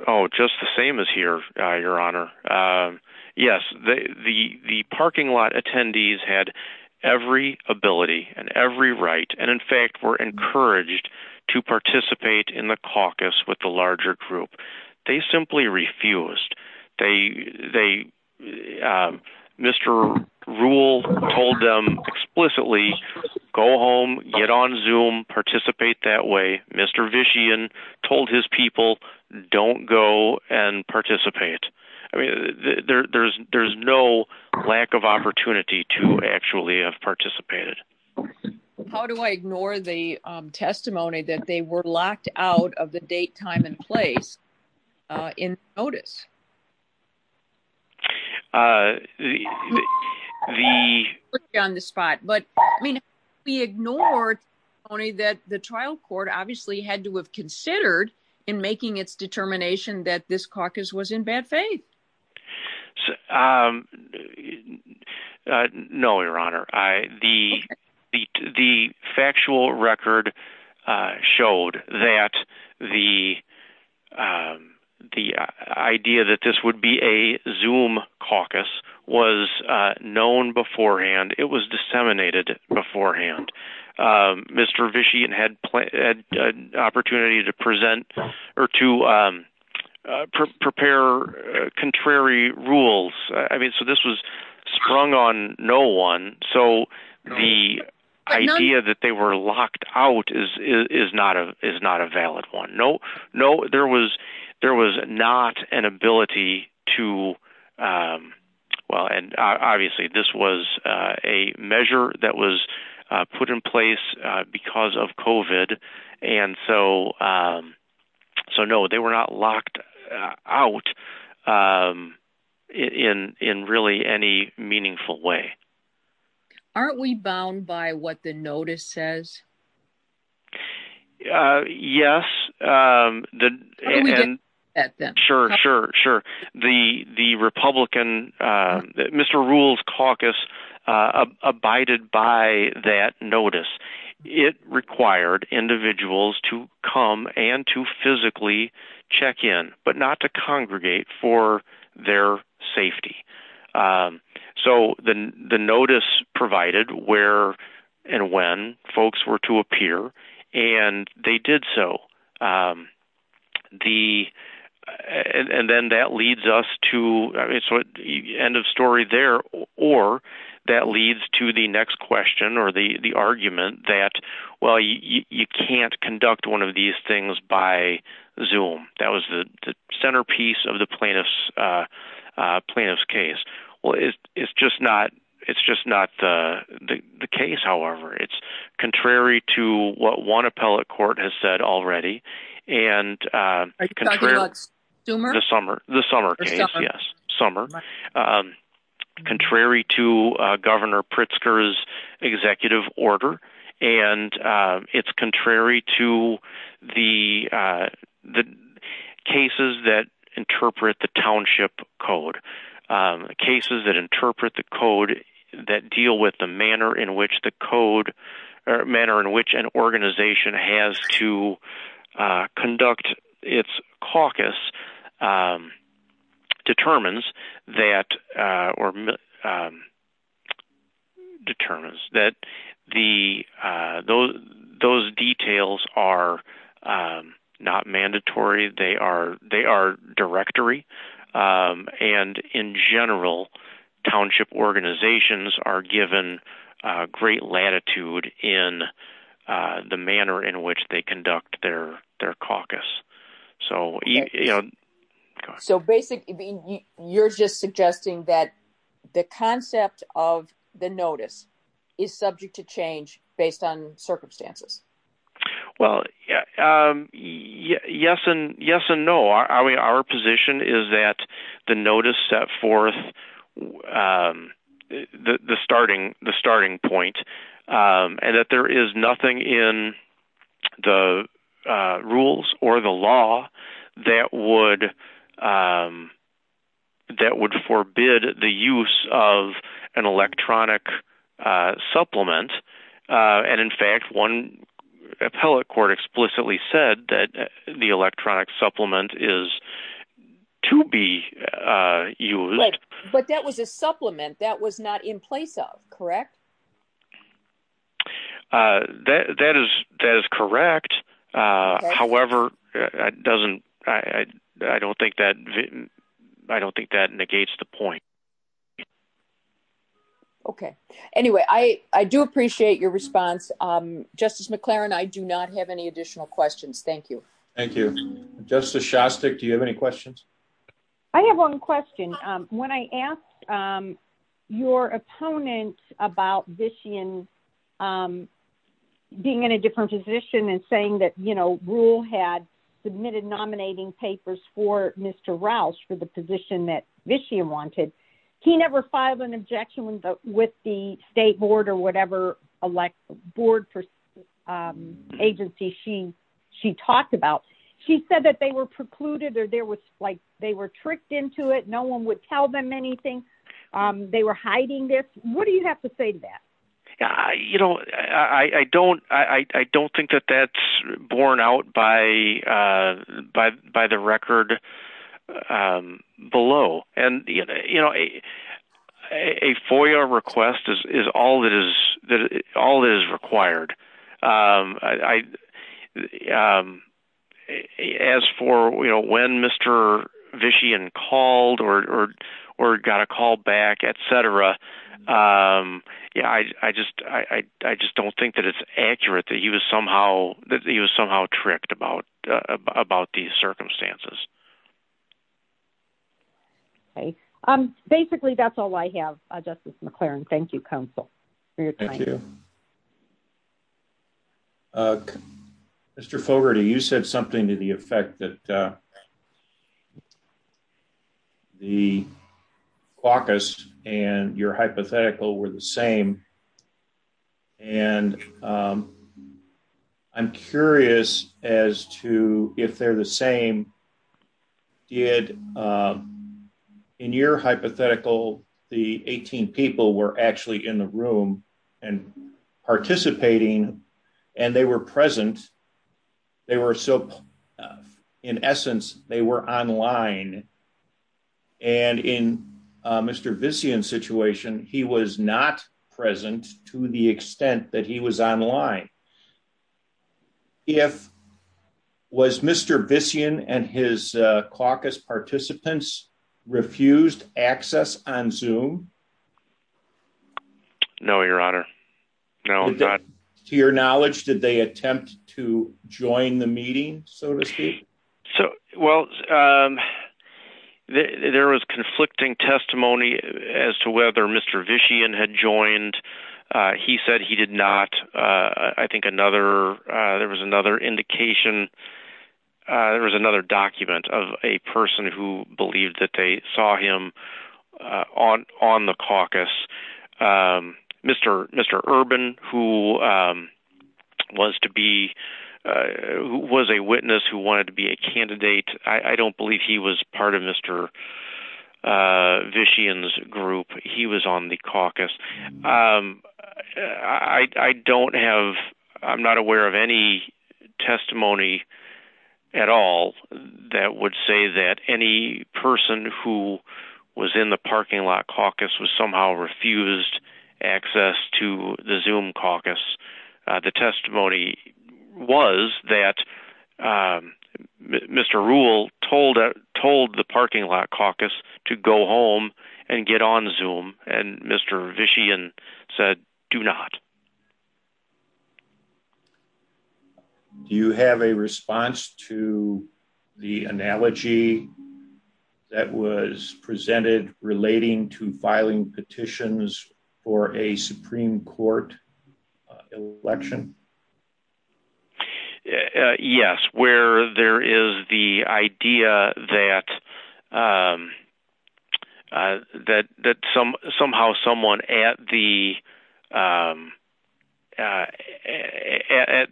oh just the same as here uh your honor uh yes the the the parking lot attendees had every ability and every right and in fact were encouraged to participate in the caucus with the larger group they simply refused they they uh mr rule told them explicitly go home get on zoom participate that way mr vician told his people don't go and there's no lack of opportunity to actually have participated how do i ignore the testimony that they were locked out of the date time and place uh in notice uh the the on the spot but i mean we ignored only that the trial court obviously had to have um uh no your honor i the the factual record uh showed that the um the idea that this would be a zoom caucus was uh known beforehand it was disseminated beforehand um mr vician had played an opportunity to present or to um prepare contrary rules i mean so this was sprung on no one so the idea that they were locked out is is not a is not a valid one no no there was there was not an ability to um well and obviously this was a measure that was put in place because of covid and so um so no they were not locked out um in in really any meaningful way aren't we bound by what the notice says uh yes um the and sure sure sure the the republican uh mr rules caucus uh abided by that notice it required individuals to come and to physically check in but not to congregate for their safety um so the the notice provided where and when folks were to appear and they did so um the and then that leads us to i mean so end of story there or that leads to the next question or the the argument that well you you can't conduct one of these things by zoom that was the centerpiece of the plaintiff's uh uh plaintiff's case well it's just not it's just not the the case however it's contrary to what one appellate court has said already and uh the summer the summer case yes summer um contrary to uh governor pritzker's executive order and uh it's contrary to the uh the cases that interpret the township code um cases that interpret the code that deal with the manner in which the code or manner in which an organization has to conduct its caucus um determines that uh or um determines that the uh those those details are um not mandatory they are they are directory um and in general township organizations are given uh great latitude in uh the manner in which they conduct their their caucus so you know so basically you're just suggesting that the concept of the notice is subject to change based on circumstances well um yes and yes and no our position is that the notice set forth um the starting the starting point um and that there is nothing in the uh rules or the law that would um that would forbid the use of an electronic uh supplement uh and in fact one appellate court explicitly said that the electronic supplement is to be uh used but that was a supplement that was not in place of correct uh that that is that is correct uh however it doesn't i i don't think that i don't think that negates the point okay anyway i i do appreciate your response um justice mcclaren i do not have any additional questions thank you thank you justice shostik do you have questions i have one question um when i asked um your opponent about vician um being in a different position and saying that you know rule had submitted nominating papers for mr roush for the position that vician wanted he never filed an objection with the state board or whatever elect board for um agency she she talked about she said that they were precluded or there was like they were tricked into it no one would tell them anything um they were hiding this what do you have to say to that i you know i i don't i i don't think that that's borne out by by by the record um below and you know a a foyer request is is all that is that all is required um as for you know when mr vician called or or got a call back etc um yeah i i just i i just don't think that it's accurate that he was somehow that he was somehow tricked about about these circumstances okay um basically that's all i have justice mcclaren thank you counsel mr clover do you said something to the effect that uh the caucus and your hypothetical were the same and um i'm curious as to if they're the same did um in your hypothetical the 18 people were actually in the room and participating and they were present they were so in essence they were online and in mr vician situation he was not present to the extent that he was online if was mr vician and his caucus participants refused access on zoom to your knowledge did they attempt to join the meeting so to speak so well um there was conflicting testimony as to whether mr vician had joined uh he said he did not uh i think another uh there was another indication uh there was another document of a person who believed that they saw him uh on on the caucus um mr mr urban who um was to be uh who was a witness who wanted to be a candidate i i don't believe he was part of mr uh vician's group he was on the caucus um i i don't have i'm not aware of any testimony at all that would say that any person who was in the parking lot caucus was somehow refused access to the zoom caucus the testimony was that uh mr rule told told the parking lot caucus to go home and get on zoom and mr vician said do not do you have a response to the analogy that was presented relating to filing petitions for a supreme court election yes where there is the idea that um uh at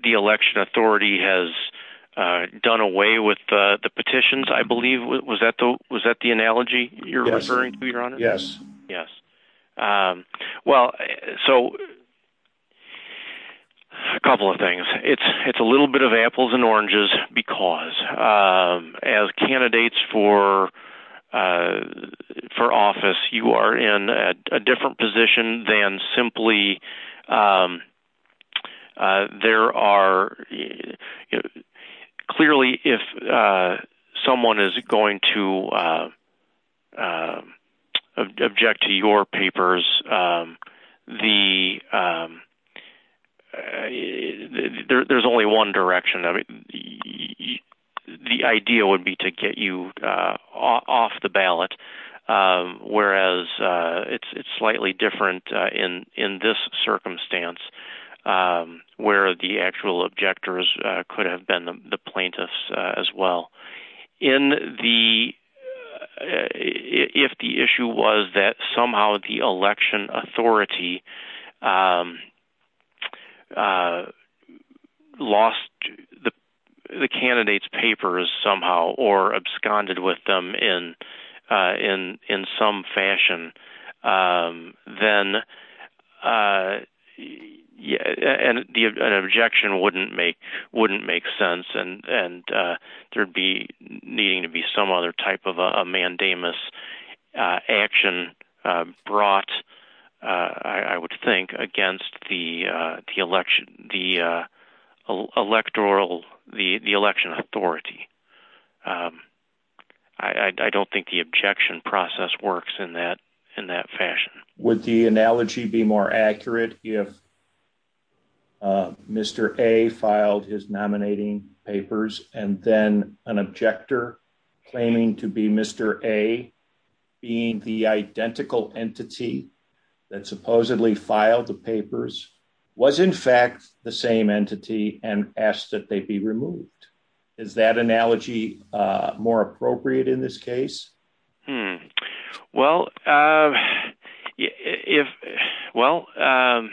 the election authority has uh done away with the the petitions i believe was that the was that the analogy you're referring to your honor yes yes um well so a couple of things it's it's a little bit of apples and oranges because um as candidates for uh for office you are in a different position than simply um uh there are clearly if uh someone is going to uh object to your papers um the um uh there's only one direction i mean the the idea would be to get you uh off the ballot whereas uh it's it's slightly different uh in in this circumstance um where the actual objectors could have been the plaintiffs as well in the if the issue was that somehow the election authority um uh lost the the candidate's papers somehow or absconded with them in uh in in some fashion then uh yeah and the objection wouldn't make wouldn't make sense and and uh there'd be needing to be some other type of a mandamus uh action uh brought uh i would think against the the election the uh electoral the the election authority um i i don't think the objection process works in that in that fashion would the analogy be more accurate if uh mr a filed his nominating papers and then an objector claiming to be mr a being the identical entity that supposedly filed the papers was in fact the same entity and asked that they be removed is that analogy uh more appropriate in this case hmm well uh if well um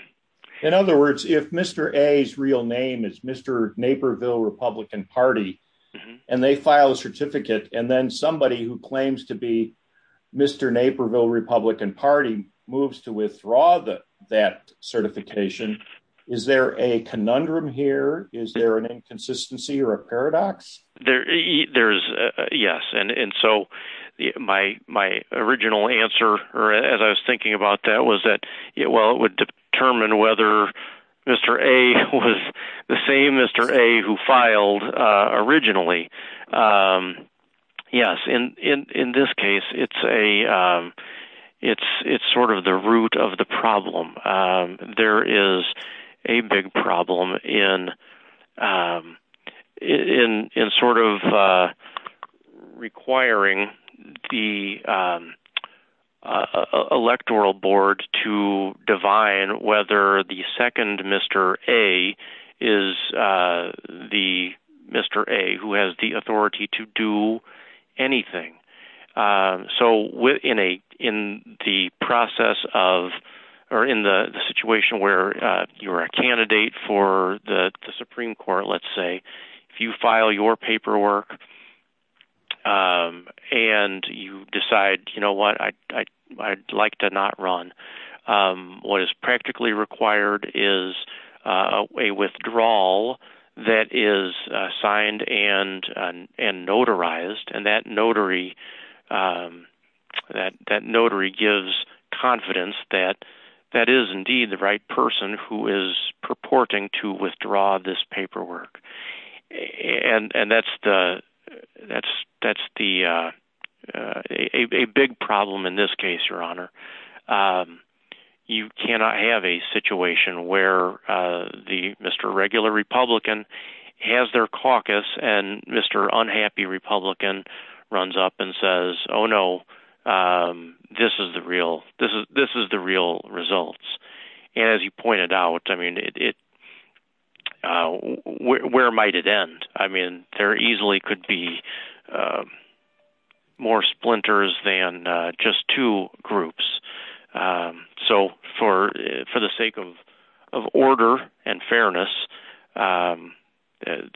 in other words if mr a's real name is mr naperville republican party and they file a certificate and then somebody who claims to be mr naperville republican party moves to withdraw the that certification is there a conundrum here is there an inconsistency or a paradox there there's yes and and so my my original answer or as i was thinking about that was that well it would determine whether mr a was the same mr a who filed uh originally um yes and in in this case it's a um it's sort of the root of the problem um there is a big problem in um in in sort of uh requiring the electoral board to divine whether the second mr a is uh the mr a who has the authority to do anything uh so within a in the process of or in the situation where uh you're a candidate for the the supreme court let's say if you file your paperwork um and you decide you know what i i'd like to not run um what is practically required is uh a withdrawal that is signed and and notarized and that notary um that that notary gives confidence that that is indeed the right person who is purporting to withdraw this paperwork and and that's the that's that's the a big problem in this case your honor um you cannot have a situation where uh the mr regular republican has their caucus and mr unhappy republican runs up and says oh no um this is the real this is this is the real results and as you pointed out i mean it uh where might it end i mean there easily could be more splinters than just two groups um so for for the sake of of order and fairness um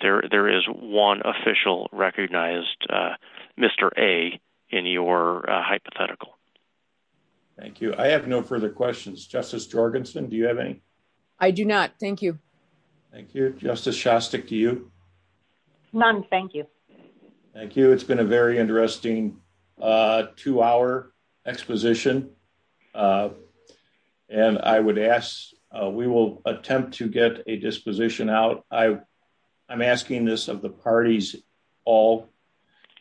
there there is one official recognized uh mr a in your hypothetical thank you i have no further questions justice jorgenson do you have any i do not thank you thank you justice shostak to you none thank you thank you it's been a attempt to get a disposition out i i'm asking this of the parties all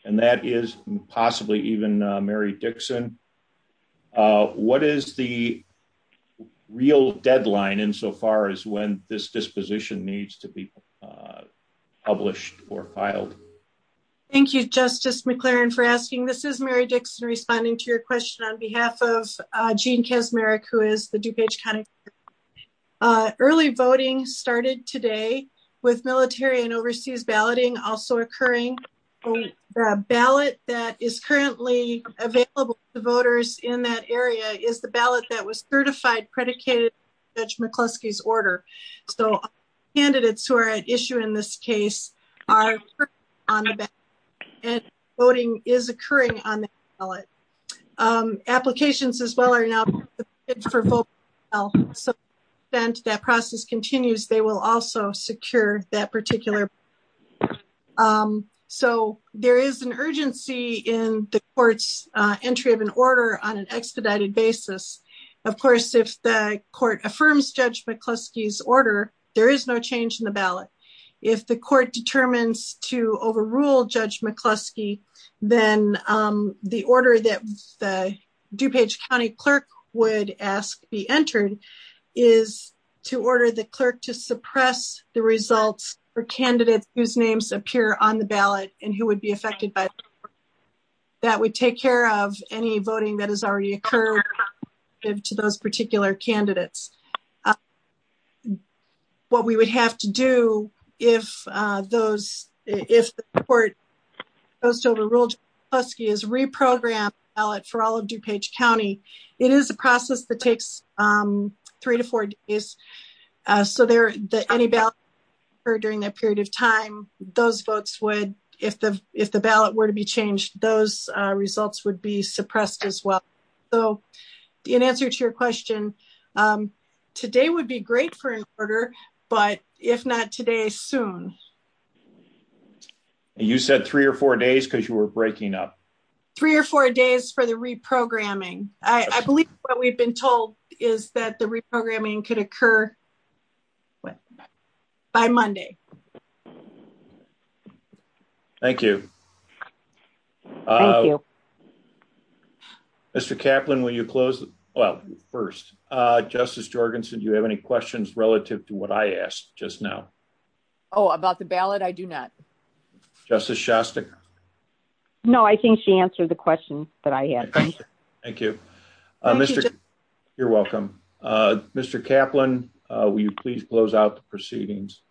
and that is possibly even mary dixon uh what is the real deadline insofar as when this disposition needs to be published or filed thank you justice mclaren for asking this is mary dixon responding to your question on behalf of uh gene kasmeric who is the duke h kind of early voting started today with military and overseas balloting also occurring the ballot that is currently available to voters in that area is the ballot that was certified predicated judge mccluskey's order so candidates who are at issue in this case are on the back and voting is occurring on the ballot um applications as well are now for both else since that process continues they will also secure that particular um so there is an urgency in the court's uh entry of an order on an expedited basis of course if the court affirms judge mccluskey's order there is no change in the ballot if the dupage county clerk would ask to be entered is to order the clerk to suppress the results for candidates whose names appear on the ballot and who would be affected by that would take care of any voting that has already occurred to those particular candidates um what we would have to do if uh those if the court goes over ruled husky is reprogram ballot for all of dupage county it is a process that takes um three to four days uh so there that any ballot or during that period of time those votes would if the if the ballot were to change those uh results would be suppressed as well so in answer to your question um today would be great for an order but if not today soon you said three or four days because you were breaking up three or four days for the reprogramming i i believe what we've been told is that the reprogramming could occur by monday okay thank you uh thank you mr caplan will you close well first uh justice jorgensen do you have any questions relative to what i asked just now oh about the ballot i do not justice shostak no i think she answered the question that i had thank you uh mr you're welcome uh mr caplan uh please close out the proceedings